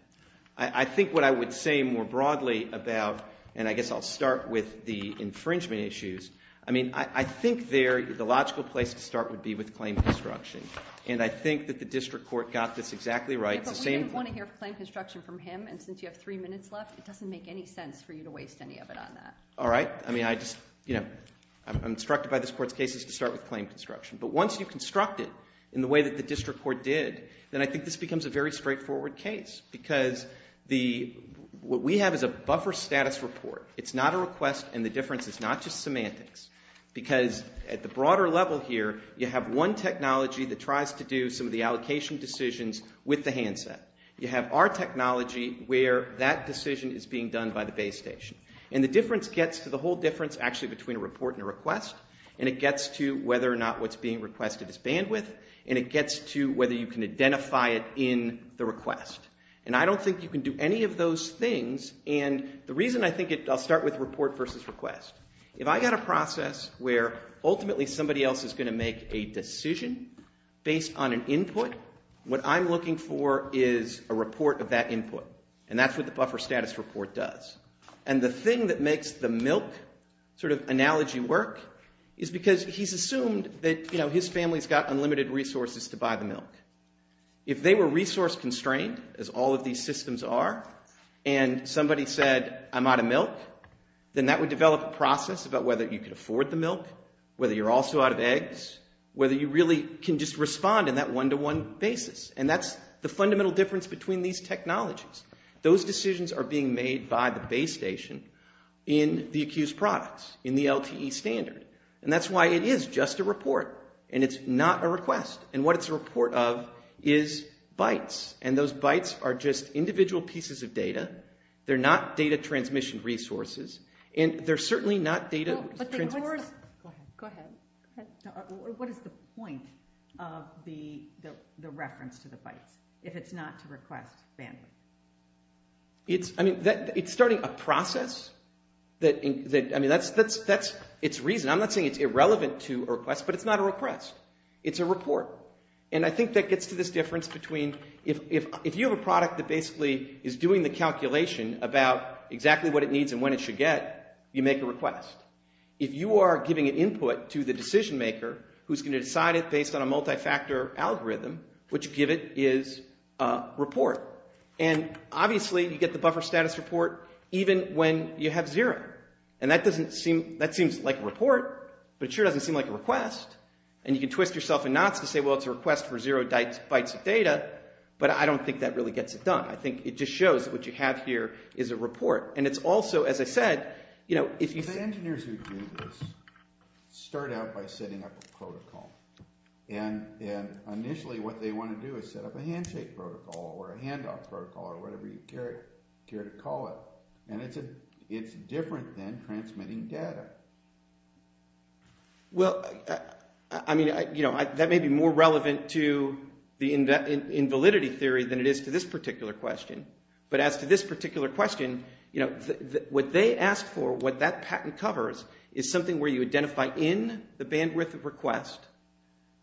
I think what I would say more broadly about, and I guess I'll start with the infringement issues, I mean, I think the logical place to start would be with claim construction. And I think that the district court got this exactly right. But we just want to hear claim construction from him, and since you have three minutes left, it doesn't make any sense for you to waste any of it on that. Alright, I mean, I'm instructed by this court's cases to start with claim construction. But once you construct it in the way that the district court did, then I think this becomes a very straightforward case. Because what we have is a buffer status report. It's not a request, and the difference is not just semantics. Because at the broader level here, you have one technology that tries to do some of the allocation decisions with the handset. You have our technology where that decision is being done by the base station. And the difference gets to the whole difference, actually, between a report and a request, and it gets to whether or not what's being requested is bandwidth, and it gets to whether you can identify it in the request. And I don't think you can do any of those things, and the reason I think it's... I'll start with report versus request. If I've got a process where ultimately somebody else is going to make a decision based on an input, what I'm looking for is a report of that input. And that's what the buffer status report does. And the thing that makes the milk sort of analogy work is because he's assumed that his family's got unlimited resources to buy the milk. If they were resource constrained, as all of these systems are, and somebody said, I'm out of milk, then that would develop a process about whether you can afford the milk, whether you're also out of eggs, whether you really can just respond in that one-to-one basis. And that's the fundamental difference between these technologies. Those decisions are being made by the police station in the accused province in the LTE standard. And that's why it is just a report. And it's not a request. And what it's a report of is bytes. And those bytes are just individual pieces of data. They're not data transmission resources. And they're certainly not data... Go ahead. What is the point of the reference to the bytes if it's not to request banning? It's, I mean, it's starting a process that, I mean, it's reason. I'm not saying it's irrelevant to a request, but it's not a request. It's a report. And I think that gets to this difference between if you have a product that basically is doing the calculation about exactly what it needs and when it should get, you make a request. If you are giving input to the decision maker who's going to decide it based on a multi-factor algorithm, what you give it is a report. And obviously, you get the buffer status report even when you have zero. And that doesn't seem... that seems like a report, but sure doesn't seem like a request. And you can twist yourself in knots and say, well, it's a request for zero bytes of data, but I don't think that really gets it done. I think it just shows what you have here is a report. And it's also, as I said, you know, if you... The engineers who do this start out by setting up a protocol. And initially what they want to do is set up a handshake protocol or a handoff protocol or whatever you care to call it. And it's different than transmitting data. Well, I mean, you know, that may be more relevant to being in validity theory than it is to this particular question. But as to this particular question, you know, what they ask for, what that patent covers is something where you identify in the bandwidth of request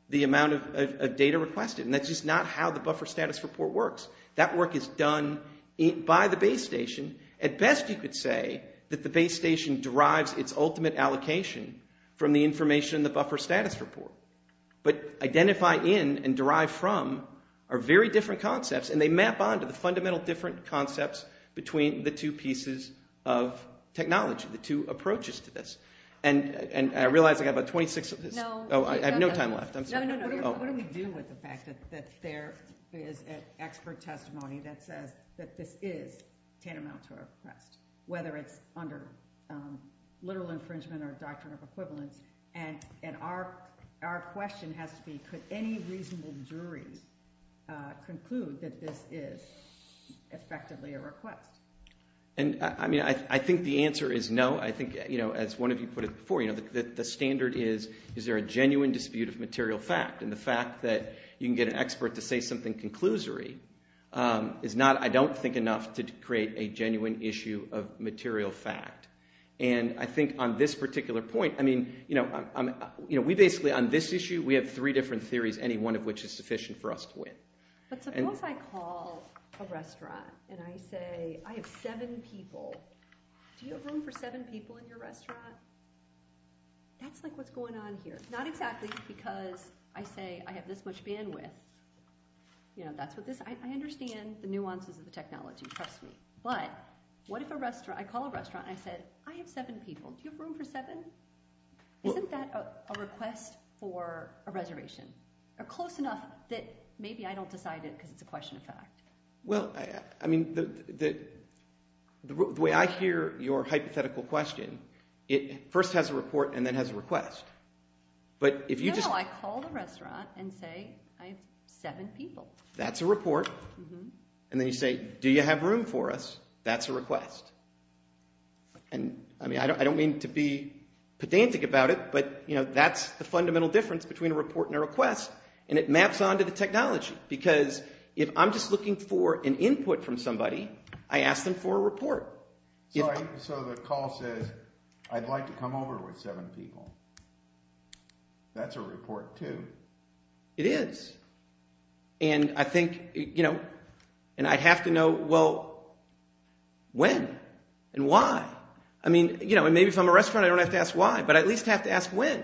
the amount of data requested. And that's just not how the buffer status report works. That work is done by the base station. At best you could say that the base station derives its ultimate allocation from the information in the buffer status report. But identify in and derive from are very different concepts, and they map onto the fundamental different concepts between the two pieces of technology, the two approaches to this. And I realize I have about 26 minutes. I have no time left. What do we do with the fact that there is an expert testimony that says that this is a patent officer request, whether it's under literal infringement or a doctrine of equivalent? And our question has to be could any reasonable jury conclude that this is effectively a request? I mean, I think the answer is no. I think, you know, as one of you put it before, the standard is, is there a genuine dispute of material fact? And the fact that you can get an expert to say something conclusory is not, I don't think enough to create a genuine issue of material fact. And I think on this particular point I mean, you know, on this issue we have three different theories any one of which is sufficient for us to win. So suppose I call a restaurant and I say I have seven people. Do you have room for seven people in your restaurant? That's like what's going on here. Not exactly because I say I have this much bandwidth. I understand the nuances of the technology, trust me. But what if I call a restaurant and I say I have seven people. Do you have room for seven? Isn't that a request for a reservation? Close enough that maybe I don't decide it because it's a question of fact. Well, I mean, the way I hear your hypothetical question it first has a report and then has a request. No, I call the restaurant and say I have seven people. That's a report. And then you say, do you have room for us? That's a request. And I mean, I don't mean to be pedantic about it, but that's the fundamental difference between a report and a request. And it maps onto the technology because if I'm just looking for an input from somebody I ask them for a report. So the call says I'd like to come over with seven people. That's a report too. It is. And I think, you know, and I have to know, well, when and why? I mean, you know, and maybe if I'm a restaurant I don't have to ask why, but I at least have to ask when.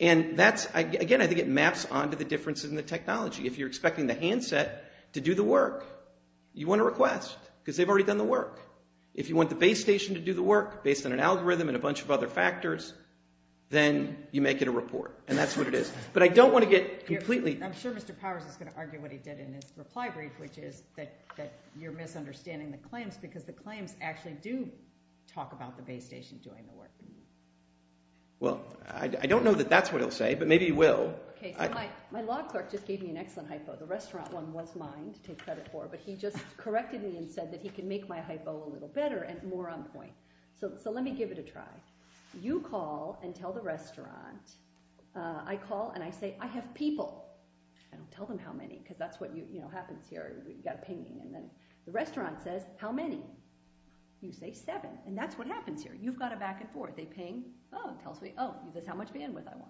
And that's, again, I think it maps onto the differences in the technology. If you're expecting the handset to do the work you want a request because they've already done the work. If you want the base station to do the work based on an algorithm and a bunch of other factors then you make it a report. And that's what it is. But I don't want to get completely I'm sure Mr. Powers is going to argue what he did in his reply brief, which is that you're misunderstanding the claims because the claims actually do talk about the base station doing the work. Well, I don't know that that's what he'll say, but maybe he will. My law clerk just gave me an excellent hypo. The restaurant one was mine to take credit for, but he just corrected me and said that he can make my hypo a little better and more on point. So let me give it a try. You call and tell the restaurant I call and I say, I have people. I don't tell them how many, because that's what happens here. You've got a painting and the restaurant says, how many? You say seven. And that's what happens here. You've got a back and forth. They ping, oh, tell us how many, oh,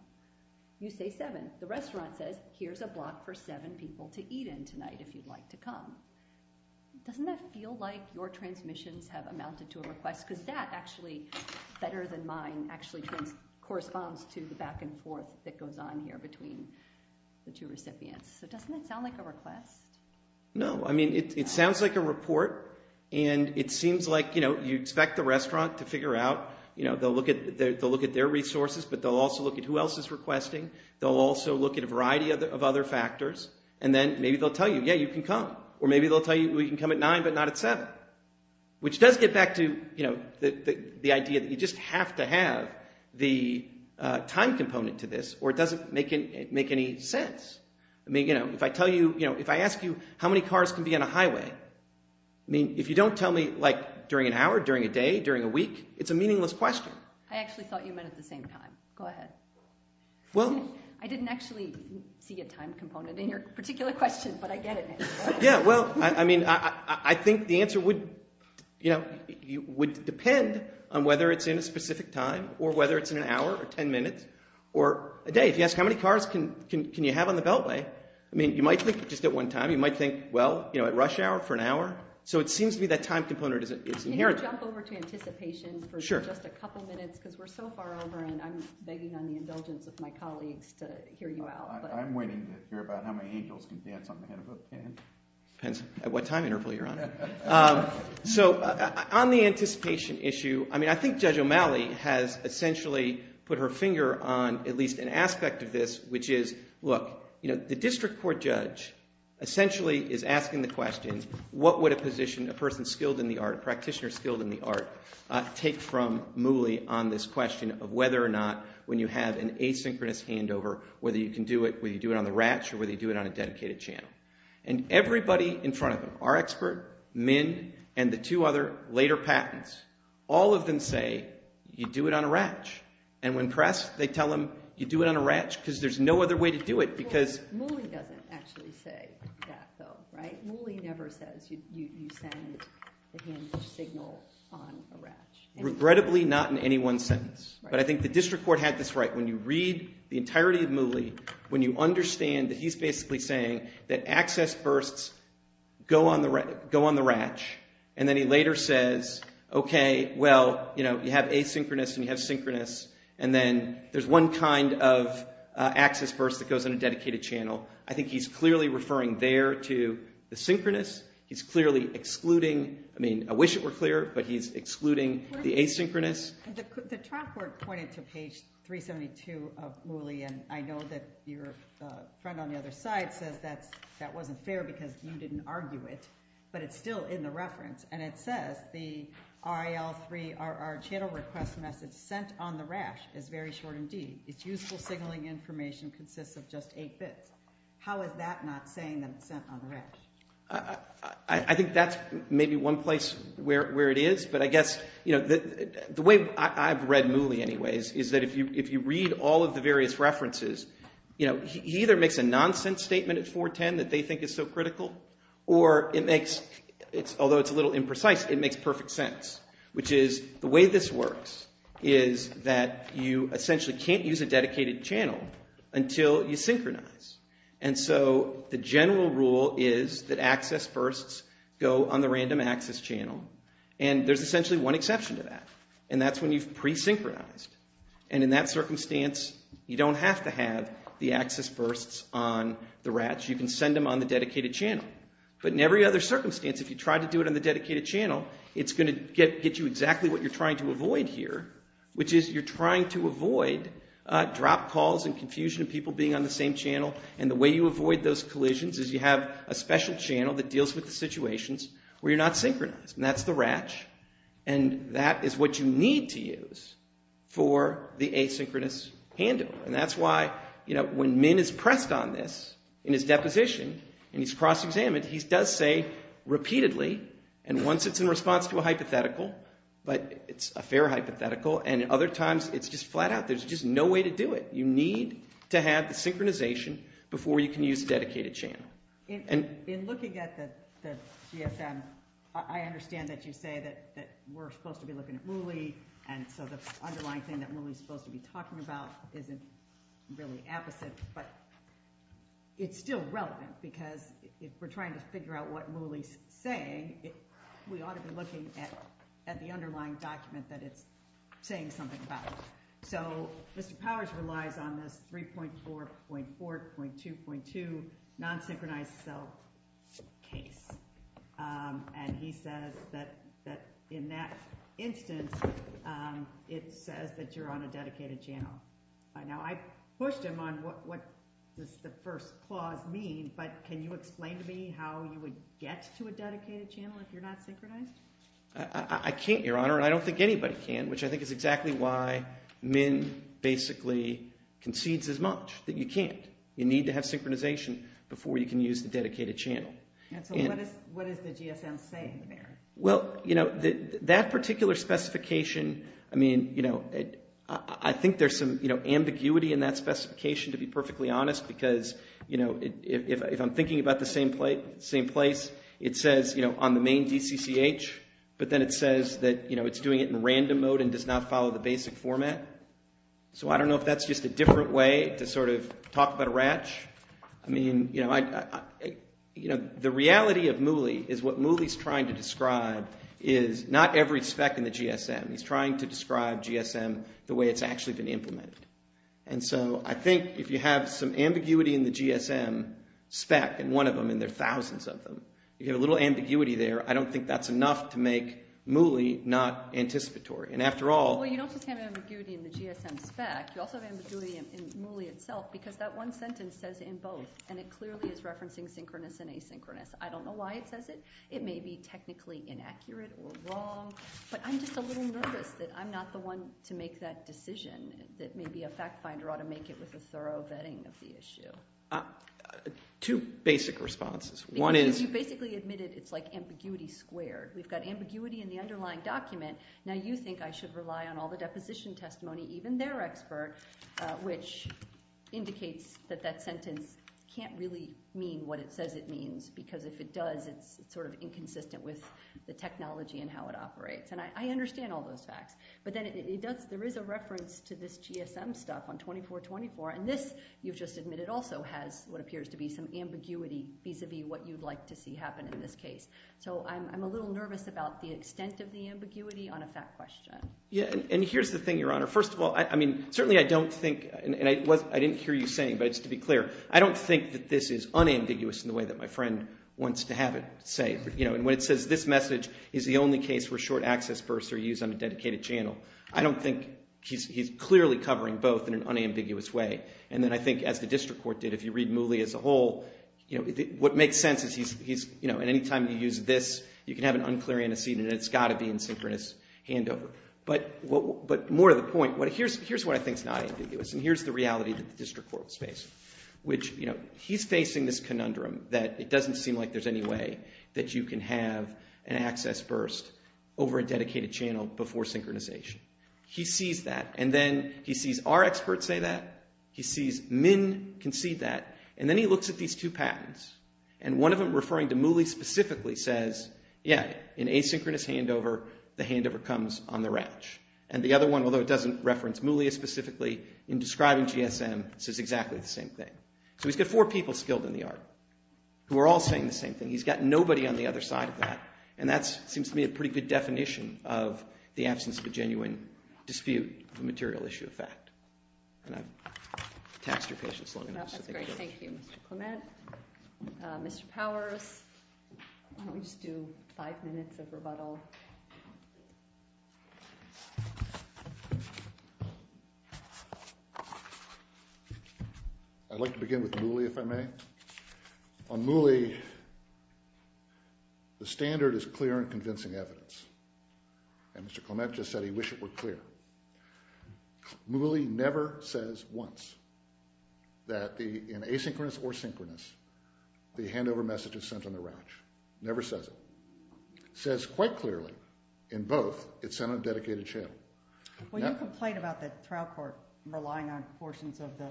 you say seven. The restaurant says, here's a block for seven people to eat in tonight if you'd like to come. Doesn't that feel like your transmissions have amounted to a request? Because that actually, better than mine, actually corresponds to the back and forth that goes on here between the two recipients. But doesn't that sound like a request? No, I mean, it sounds like a report, and it seems like, you know, you expect the restaurant to figure out, you know, they'll look at their resources, but they'll also look at who else is requesting. They'll also look at a variety of other factors and then maybe they'll tell you, yeah, you can come. Or maybe they'll tell you, we can come at nine, but not at seven. Which does get back to, you know, the idea that you just have to have the time component to this, or it doesn't make any sense. I mean, you know, if I tell you, you know, if I ask you, how many cars can be on a highway? I mean, if you don't tell me, like, during an hour, during a day, during a week, it's a meaningless question. I actually thought you meant at the same time. Go ahead. What? I didn't actually see a time component in your particular question, but I get it now. Yeah, well, I mean, I think the answer would, you know, depend on whether it's in a specific time, or whether it's in an hour, or ten minutes, or a day. If you ask how many cars can you have on the beltway, I mean, you might think just at one time. You might think, well, you know, at rush hour, for an hour. So it seems to me that time component is inherent. Can you jump over to anticipation for just a couple minutes, because we're so far over and I'm begging on the indulgence with my colleagues to hear you out. I'm waiting to hear about how many angels can dance on the head of a pen. At what time interval you're on? So, on the anticipation issue, I mean, I think Judge O'Malley has essentially put her finger on at least an aspect of this, which is, look, you know, the district court judge essentially is asking the question, what would a physician, a person skilled in the art, a practitioner skilled in the art, take from Mouly on this question of whether or not, when you have an asynchronous handover, whether you can do it, whether you do it on the ratch, or whether you do it on a dedicated channel. And everybody in front of them, our expert, MIND, and the two other later patents, all of them say, you do it on a ratch. And when pressed, they tell them, you do it on a ratch, because there's no other way to do it, because... Mouly doesn't actually say that, though, right? Mouly never says you send the handover signal on the ratch. Regrettably, not in any one sentence. But I think the district court had this right. When you read the entirety of Mouly, when you understand that he's basically saying that access firsts go on the ratch, and then he later says, okay, well, you know, you have asynchronous and you have synchronous, and then there's one kind of access first that goes on a dedicated channel. I think he's clearly referring there to the synchronous. He's clearly excluding I mean, I wish it were clear, but he's excluding the asynchronous. The trial court pointed to page 372 of Mouly, and I know that your friend on the other side says that that wasn't fair because you didn't argue it. But it's still in the reference, and it says the RIL3 RR channel request message sent on the ratch is very short and deep. Its useful signaling information consists of just 8 bits. How is that not saying that it's sent on the ratch? I think that's maybe one place where it is, but I guess, you know, the way I've read Mouly, anyways, is that if you read all of the various references, you know, he either makes a nonsense statement at 410 that they think is so critical, or it makes although it's a little imprecise, it makes perfect sense, which is the way this works is that you essentially can't use the dedicated channel until you synchronize, and so the general rule is that access firsts go on the random access channel, and there's essentially one exception to that, and that's when you've pre-synchronized, and in that circumstance, you don't have to have the access firsts on the ratch. You can send them on the dedicated channel, but in every other circumstance, if you try to do it on the dedicated channel, it's going to get you exactly what you're trying to avoid here, which is you're trying to avoid drop calls and confusion of people being on the same channel, and the way you avoid those collisions is you have a special channel that deals with the situations where you're not synchronized, and that's the ratch, and that is what you need to use for the asynchronous handle, and that's why when Min is pressed on this in his deposition, and he's cross-examined, he does say repeatedly, and once it's in response to a hypothetical, but it's a fair hypothetical, and other times it's just flat out, there's just no way to do it. You need to have the synchronization before you can use the dedicated channel. In looking at the GSM, I understand that you say that we're supposed to be looking at Muli, and so the underlying thing that Muli's supposed to be talking about isn't really appetite, but it's still relevant, because if we're trying to figure out what Muli's saying, we ought to be looking at the underlying document that it's saying something about. So, Mr. Powers relies on the 3.4.4 .2.2 non-synchronized cell and he says that in that instance, it says that you're on a dedicated channel. Now, I pushed him on what the first clause means, but can you explain to me how you would get to a dedicated channel if you're not synchronized? I can't, Your Honor, and I don't think anybody can, which I think is exactly why MN basically concedes as much, that you can't. You need to have synchronization before you can use the dedicated channel. What is the GSM saying there? Well, that particular specification, I think there's some ambiguity in that specification, to be perfectly honest, because if I'm thinking about the same thing in place, it says, you know, on the main DCCH, but then it says that, you know, it's doing it in random mode and does not follow the basic format. So, I don't know if that's just a different way to sort of talk about a ratch. I mean, you know, the reality of MULI is what MULI's trying to describe is not every spec in the GSM. He's trying to describe GSM the way it's actually been implemented. And so, I think if you have some ambiguity in the GSM spec in one of them, and there's thousands of them, you get a little ambiguity there, I don't think that's enough to make MULI not anticipatory. And after all... Well, you don't just have an ambiguity in the GSM spec, you also have an ambiguity in MULI itself, because that one sentence says in both, and it clearly is referencing synchronous and asynchronous. I don't know why it says it. It may be technically inaccurate or wrong, but I'm just a little nervous that I'm not the one to make that decision. Maybe a fact finder ought to make it with a thorough vetting of the issue. Two basic responses. One is... You basically admitted it's like ambiguity squared. We've got ambiguity in the underlying document, now you think I should rely on all the deposition testimony even their expert, which indicates that that sentence can't really mean what it says it means, because if it does it's sort of inconsistent with the technology and how it operates. And I understand all those facts. There is a reference to this GSM stuff on 2424, and this you've just admitted also has what appears to be some ambiguity vis-a-vis what you'd like to see happen in this case. So I'm a little nervous about the extent of the ambiguity on a fact question. And here's the thing, Your Honor. First of all, I mean, certainly I don't think, and I didn't hear you saying, but just to be clear, I don't think that this is unambiguous in the way that my friend wants to have it say. You know, when it says this message is the only case where short-access verse are used on a dedicated channel, I don't think he's clearly covering both in an unambiguous way. And then I think, as the district court did, if you read Muley as a whole, what makes sense is he's at any time you use this, you can have an unclear antecedent, and it's got to be a synchronous handover. But more to the point, here's what I think is not ambiguous, and here's the reality the district court is facing. He's facing this conundrum that it doesn't seem like there's any way that you can have an access burst over a dedicated channel before synchronization. He sees that, and then he sees our experts say that, he sees MN can see that, and then he looks at these two patterns, and one of them referring to Muley specifically says, yeah, an asynchronous handover, the handover comes on the routch. And the other one, although it doesn't reference Muley specifically, in describing GSM says exactly the same thing. So he's got four people skilled in the art who are all saying the same thing. He's got nobody on the other side of that, and that seems to me a pretty good definition of the absence of a genuine dispute of a material issue of fact. And I'm taxed your patience long enough. That's great. Thank you, Mr. Clement. Mr. Powers, I want you to do five minutes of rebuttal. I'd like to begin with Muley, if I may. On Muley, the standard is clear and convincing evidence. And Mr. Clement just said he wished it were clear. Muley never says once that in asynchronous or synchronous, the handover message is sent on the rouch. Never says it. Says quite clearly in both, it's sent on a dedicated channel. Well, your complaint about the trial court relying on portions of the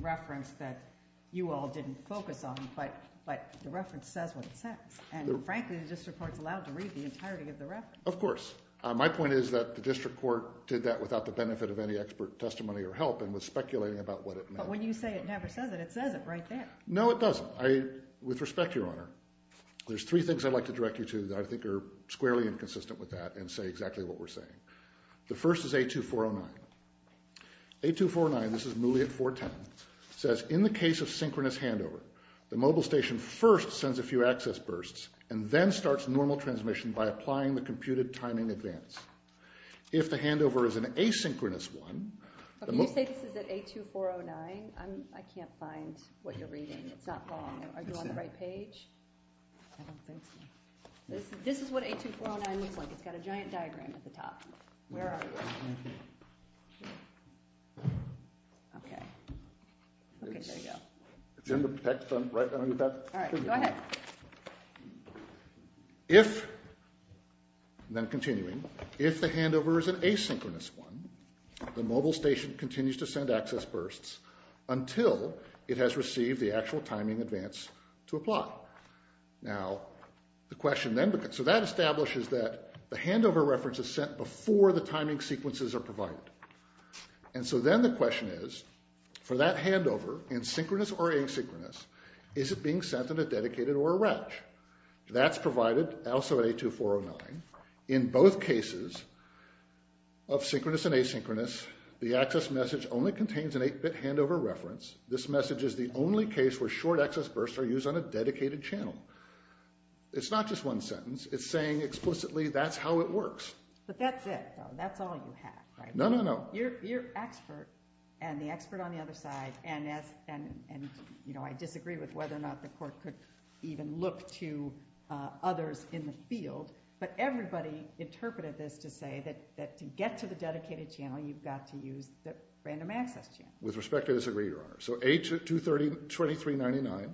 reference that you all didn't focus on, but the reference says on the text. And frankly, the district court's allowed to read the entirety of the reference. Of course. My point is that the district court did that without the benefit of any expert testimony or help and was speculating about what it meant. But when you say it never says it, it says it right there. No, it doesn't. I, with respect, Your Honor, there's three things I'd like to direct you to that I think are squarely inconsistent with that and say exactly what we're saying. The first is A2409. A2409, this is Muley at 410, says, in the case of synchronous handover, the mobile station first sends a few access bursts and then starts normal transmission by applying the computed timing advance. If the handover is an asynchronous one, A2409, I can't find what you're reading. It's not following. Are you on the right page? This is what A2409 looks like. It's got a giant diagram at the top. Where are you? Okay. Okay, there you go. If, then continuing, if the handover is an asynchronous one, the mobile station continues to send access bursts until it has received the actual timing advance to apply. Now, the question then becomes, so that establishes that the handover reference is sent before the timing sequence is provided. And so then the question is, for that handover, in synchronous or asynchronous, is it being sent in a dedicated or a RETCH? That's provided also at A2409. In both cases of synchronous and asynchronous, the access message only contains an 8-bit handover reference. This message is the only case where short access bursts are used on a dedicated channel. It's not just one sentence. It's saying explicitly, that's how it works. But that's it, though. That's all you have. No, no, no. You're expert, and the expert on the other side, and I disagree with whether or not the court could even look to others in the field, but everybody interpreted this to say that to get to the dedicated channel, you've got to use the random access channel. With respect, I disagree, Your Honor. So A2399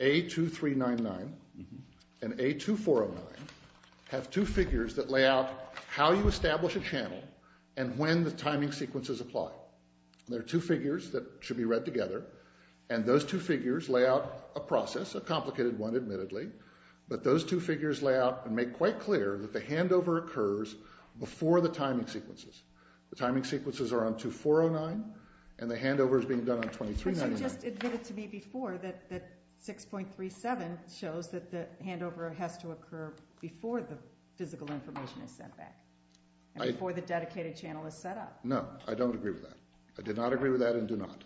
A2399 and A2409 have two figures that lay out how you establish a channel and when the timing sequences apply. They're two figures that should be read together, and those two figures lay out a process, a complicated one, admittedly, but those two figures lay out and make quite clear that the handover occurs before the timing sequences. The timing sequences are on A2409, and the handover is being done on A2399. But you just admitted to me before that 6.37 shows that the handover has to occur before the physical information is sent back. And before the dedicated channel is set up. No, I don't agree with that. I did not agree with that and do not.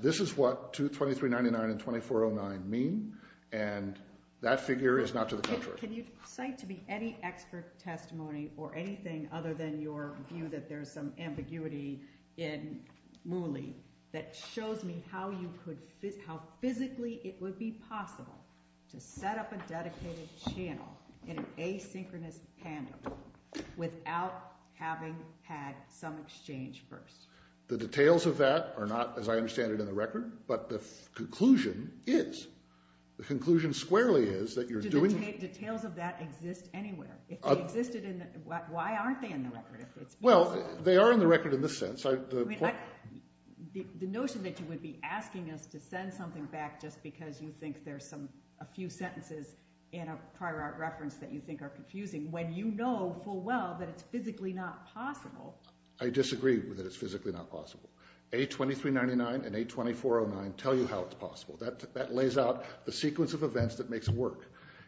This is what A2399 and A2409 mean, and that figure is not to the contrary. Can you cite to me any expert testimony or anything other than your view that there's some ambiguity in Mooney that shows me how you could how physically it would be possible to set up a dedicated channel in an asynchronous handover without having had some exchange first. The details of that are not, as I understand it, in the record but the conclusion is. The conclusion squarely is that you're doing... Do the details of that exist anywhere? Why aren't they in the record? Well, they are in the record in this sense. The notion that you would be asking us to send something back just because you think there's a few sentences in a prior reference that you think are confusing when you know full well that it's physically not possible. I disagree that it's physically not possible. A2399 and A2409 tell you how it's possible. That lays out the sequence of events that makes it work.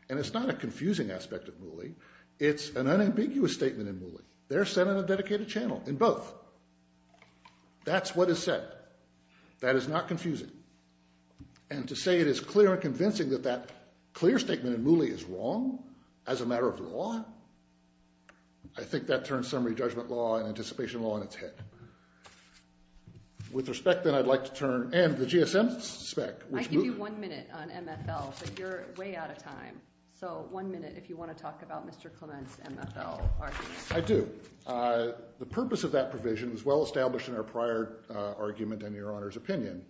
And it's not a confusing aspect of Mooney. It's an unambiguous statement in Mooney. They're sent on a dedicated channel in both. That's what is said. That is not confusing. And to say it is clear and convincing that that clear statement in Mooney is wrong as a matter of law, I think that turns summary judgment law and anticipation law on its head. With respect then, I'd like to turn and the GSM spec. I can give you one minute on MSL but you're way out of time. So one minute if you want to talk about Mr. Clements' MSL argument. I do. The purpose of that provision is well established in our prior argument and Your Honor's opinion.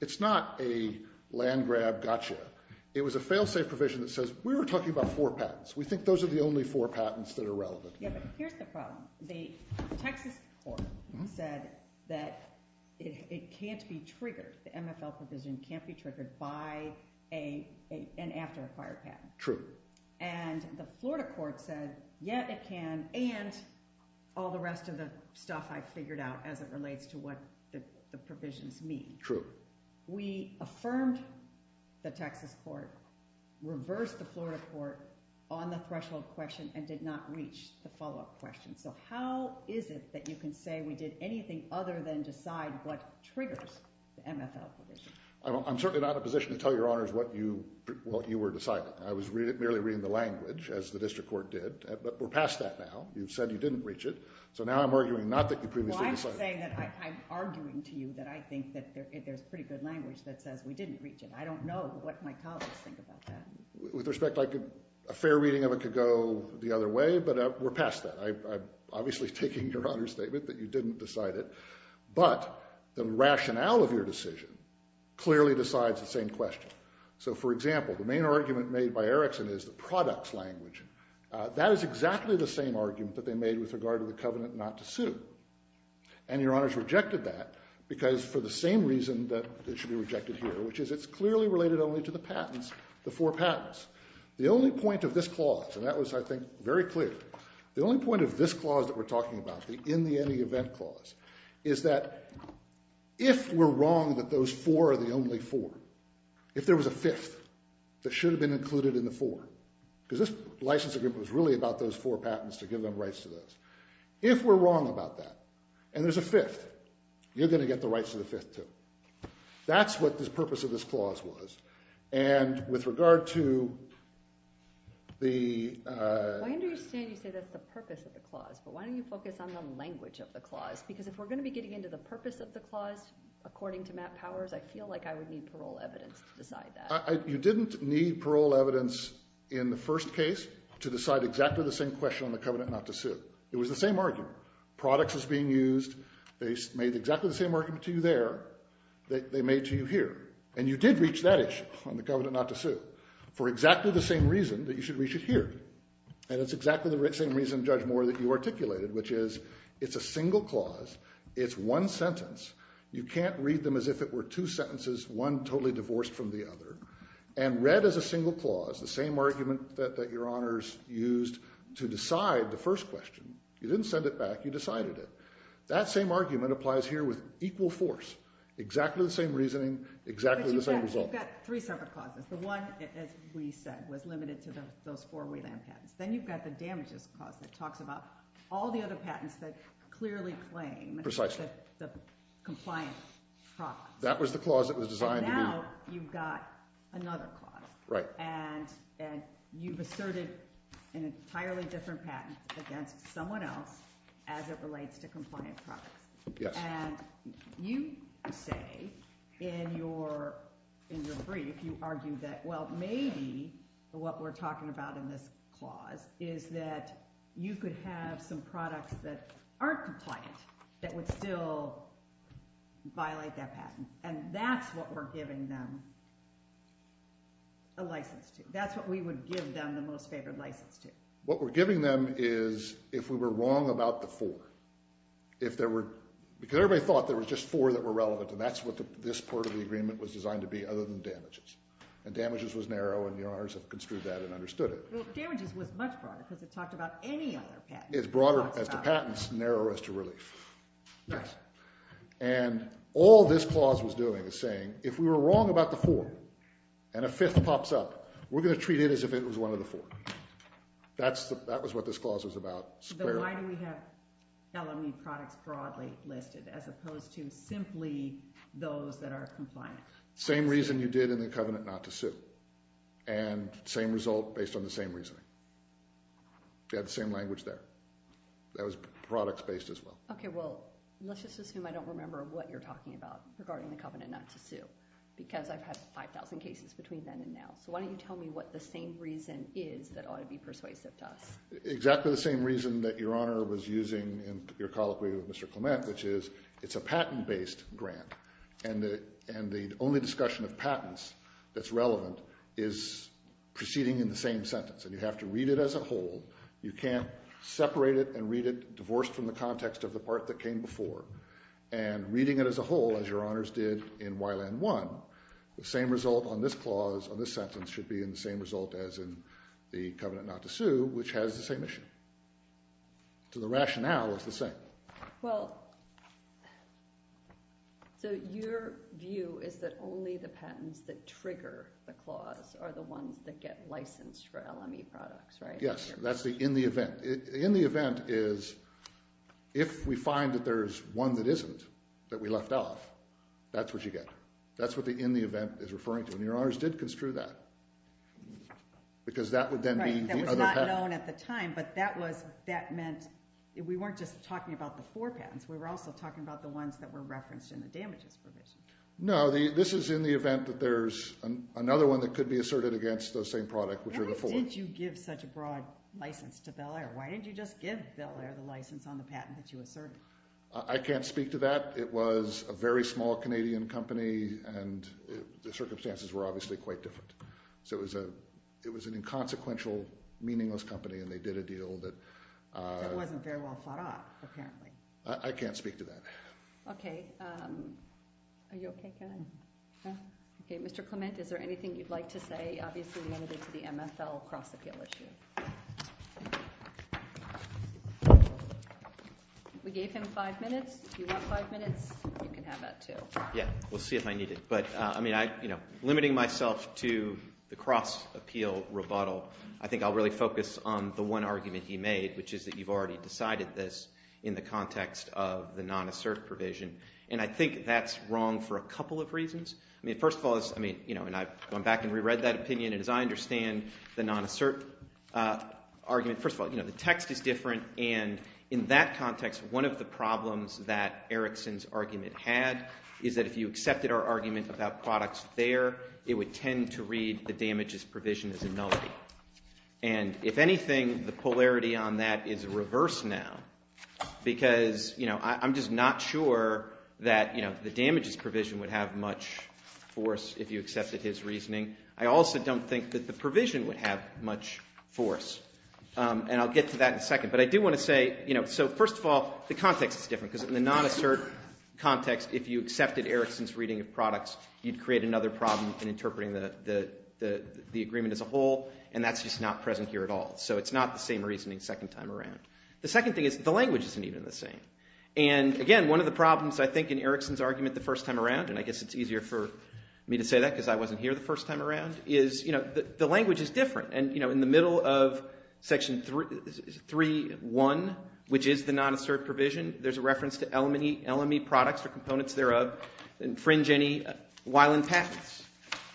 It's not a land-grab gotcha. It was a fail-safe provision that says we were talking about four patents. We think those are the only four patents that are relevant. Here's the problem. The Texas court said that it can't be triggered. The MSL provision can't be triggered by an after-acquired patent. True. And the Florida court says yet it can and all the rest of the stuff I've figured out as it relates to what the provisions mean. True. We affirmed the Texas court, reversed the Florida court on the threshold question and did not reach the follow-up question. So how is it that you can say we did anything other than decide what triggered the MSL provision? I'm certainly not in a position to tell Your Honors what you were deciding. I was merely reading the statement. We're past that now. You said you didn't reach it. So now I'm arguing not that you previously decided. Well, I'm arguing to you that I think that there's pretty good language that says we didn't reach it. I don't know what my colleagues think about that. With respect, I think a fair reading of it could go the other way, but we're past that. I'm obviously taking Your Honors' statement that you didn't decide it. But the rationale of your decision clearly decides the same question. So, for example, the main argument made by Erickson is a product language. That is exactly the same argument that they made with regard to the covenant not to sue. And Your Honors rejected that because for the same reason that it should be rejected here, which is it's clearly related only to the patents, the four patents. The only point of this clause, and that was, I think, very clear, the only point of this clause that we're talking about, the in the any event clause, is that if we're wrong that those four are the only four, if there was a fifth that should have been included in the four. Because this licensing agreement was really about those four patents to give them rights to those. If we're wrong about that and there's a fifth, you're going to get the rights of the fifth too. That's what the purpose of this clause was. And with regard to the Why are you saying that it's the purpose of the clause, but why don't you focus on the language of the clause? Because if we're going to be getting into the purpose of the clause, according to Matt Powers, I feel like I would need parole evidence to decide that. You didn't need parole evidence in the first case to decide exactly the same question on the covenant not to sue. It was the same argument. Products is being used. They made exactly the same argument to you there that they made to you here. And you did reach that issue on the covenant not to sue for exactly the same reason that you should reach it here. And it's exactly the same reason Judge Moore, that you articulated, which is it's a single clause. It's one sentence. You can't read them as if it were two sentences, one totally divorced from the other. And read as a single clause, the same argument that your honors used to decide the first question. You didn't send it back. You decided it. That same argument applies here with equal force. Exactly the same reasoning. Exactly the same result. You've got three separate clauses. The one that was limited to those four patents. Then you've got the damages clause that talks about all the other patents that clearly claim the compliance process. That was the clause that was designed to do that. And now you've got another clause. Right. And you've asserted an entirely different patent against someone else as it relates to compliance process. Yes. And you say in your brief, you argue that, well, maybe what we're talking about in this clause is that you could have some products that aren't compliant that would still violate that patent. And that's what we're giving them a license to. That's what we would give them the most favored license to. What we're giving them is if we were wrong about the four. If there were, because everybody thought there were just four that were relevant. And that's what this part of the agreement was designed to be other than damages. And damages was narrow and your honors have construed that and understood it. Well, damages was much broader because it talked about any other patent. It's broader because the patents narrow us to release. And all this clause was doing was saying if we were wrong about the four and a fifth pops up, we're going to treat it as if it was one of the four. That was what this clause was about. But why do we have felony products broadly listed as opposed to simply those that are compliant? Same reason you did in the covenant not to sit. And same result based on the same reasoning. You had the same language there. That was products based as well. Let's just assume I don't remember what you're talking about regarding the covenant 92 because I've had 5,000 cases between then and now. Why don't you tell me what the same reason is that ought to be persuaded to us? Exactly the same reason that your honor was using in your colloquy with Mr. Clement which is it's a patent based grant and the only discussion of patents that's relevant is proceeding in the same sentence and you have to read it as a whole. You can't separate it and read it divorced from the context of the part that came before and reading it as a whole as your honors did in Ylan 1 the same result on this clause on this sentence should be in the same result as in the covenant not to sue which has the same issue. So the rationale is the same. Well so your view is that only the patents that get licensed for LME products right? Yes that's the in the event in the event is if we find that there's one that isn't that we left off that's what you get. That's what the in the event is referring to and your honors did construe that because that would then be the other patent. Right that was not known at the time but that was that meant we weren't just talking about the four patents we were also talking about the ones that were referenced in the damages provision. No this is in the event that there's another one that could be asserted against the same product. Why did you give such a broad license to Bel Air? Why didn't you just give Bel Air the license on the patent that you asserted? I can't speak to that it was a very small Canadian company and the circumstances were obviously quite different so it was a it was an inconsequential meaningless company and they did a deal that wasn't very well thought out apparently. I can't speak to that. Okay are you okay Mr. Clement is there anything you'd like to say? Obviously we ended the MSL cross appeal issue. We gave him five minutes if you want five minutes you can have that too. Yeah we'll see if I need it but limiting myself to the cross appeal rebuttal I think I'll really focus on the one argument he made which is that you've already decided this in the context of the non-assert provision and I think that's wrong for a couple of reasons. I mean first of all I've gone back and re-read that opinion and as I understand the non-assert argument first of all the text is different and in that context one of the problems that Erickson's argument had is that if you accepted our argument about products there it would tend to read the damages provision as null and if anything the polarity on that is reversed now because I'm just not sure that the damages provision would have much force if you accepted his reasoning. I also don't think that the provision would have much force and I'll get to that in a second but I do want to say first of all the context is different because in the non-assert context if you accepted Erickson's reading of products you'd create another problem in interpreting the agreement as a whole and that's just not present here at all so it's not the same reasoning second time around. The second thing is the language isn't even the same and again one of the problems I think in Erickson's argument the first time around and I guess it's easier for me to say that because I wasn't here the first time around is the language is different and in the middle of section 3.1 which is the non-assert provision there's a reference to LME products or components thereof infringe any patent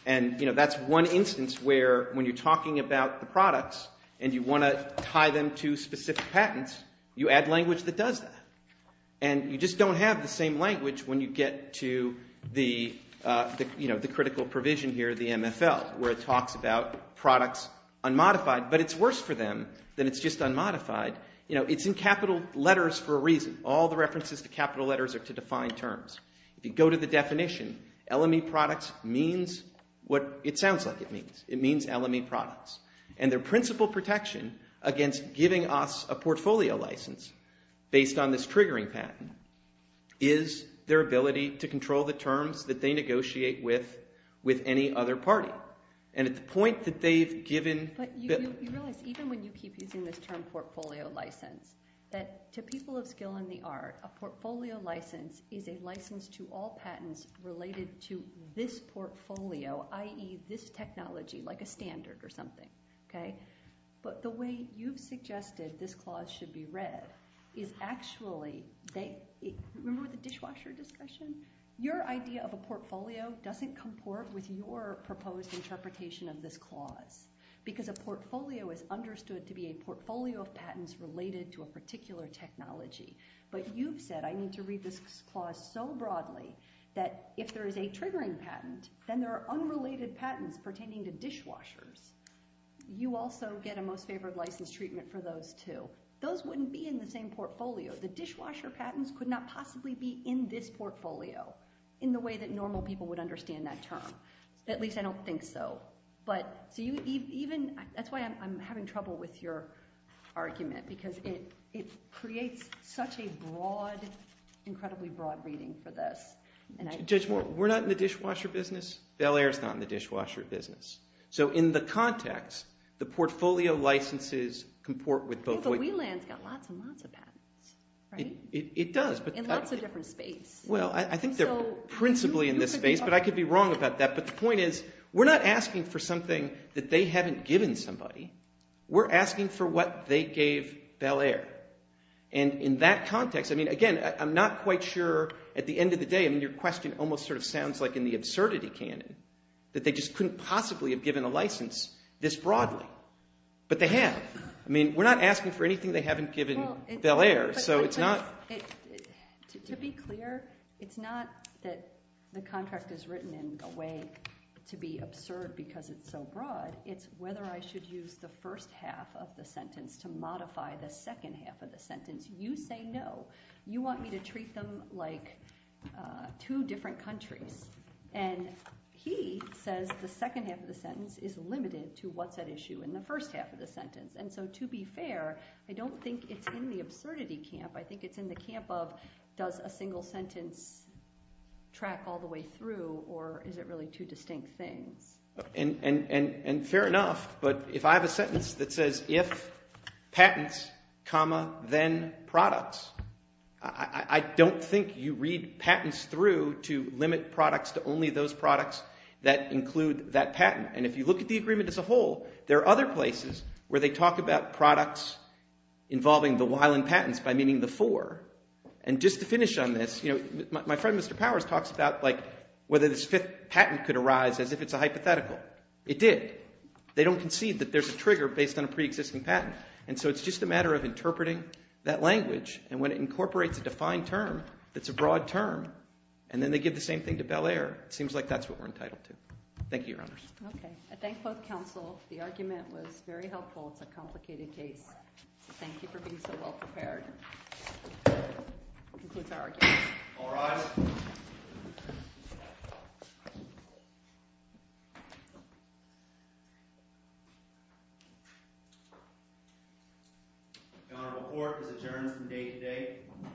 and that's one instance where when you're talking about the products and you want to tie them to specific patents you add language that does that and you just don't have the same language when you get to the critical provision here the MFL where it talks about products unmodified but it's worse for them than it's just unmodified it's in capital letters for a reason all the references to capital letters are to defined terms. If you go to the definition LME products means what it sounds like it means. It means LME products and their principle protection against giving us a portfolio license based on this triggering patent is their ability to control the terms that they negotiate with any other party and at the point that they've given... Even when you keep using this term portfolio license that to people of skill and the art a portfolio license is a license to all patents related to this portfolio i.e. this but the way you've suggested this clause should be read is actually remember the dishwasher discussion your idea of a portfolio doesn't comport with your proposed interpretation of this clause because a portfolio is understood to be a portfolio of patents related to a particular technology but you've said I need to read this clause so broadly that if there is a triggering patent then there are unrelated patents pertaining to dishwashers you also get a most favored treatment for those too. Those wouldn't be in the same portfolio. The dishwasher patents could not possibly be in this portfolio in the way that normal people would understand that term at least I don't think so that's why I'm having trouble with your argument because it creates such a broad incredibly broad reading for this We're not in the dishwasher business Bel Air is not in the dishwasher business so in the context the portfolio licenses comport with both ways It does Well I think they're principally in this space but I could be wrong about that but the point is we're not asking for something that they haven't given somebody we're asking for what they gave Bel Air and in that context I mean again I'm not quite sure at the end of the day I mean your question almost sort of sounds like in the absurdity canon that they just couldn't possibly have given a license this broadly but they have we're not asking for anything they haven't given Bel Air To be clear it's not that the contract is written in a way to be absurd because it's so broad it's whether I should use the first half of the sentence to modify the second half of the sentence you say no, you want me to treat them like two different countries and he says the second half of the sentence is limited to what's at issue in the first half of the sentence and so to be fair I don't think it's in the absurdity camp I think it's in the camp of does a single sentence track all the way through or is it really two distinct things and fair enough but if I have a sentence that says if patents comma then products I don't think you read patents through to limit products to only those products that include that patent and if you look at the agreement as a whole there are other places where they talk about products involving the while in patents by meaning the for and just to finish on this my friend Mr. Powers talks about whether the patent could arise as if it's a hypothetical, it did they don't concede that there's a trigger based on a pre-existing patent and so it's just a matter of interpreting that language and when it incorporates a defined term it's a broad term and then they give the same thing to Bel Air, seems like that's what we're entitled to. Thank you your honors. I thank both counsels, the argument was very helpful, it's a complicated case thank you for being so well prepared to conclude the argument. All rise I'm going to report for adjournment from day to day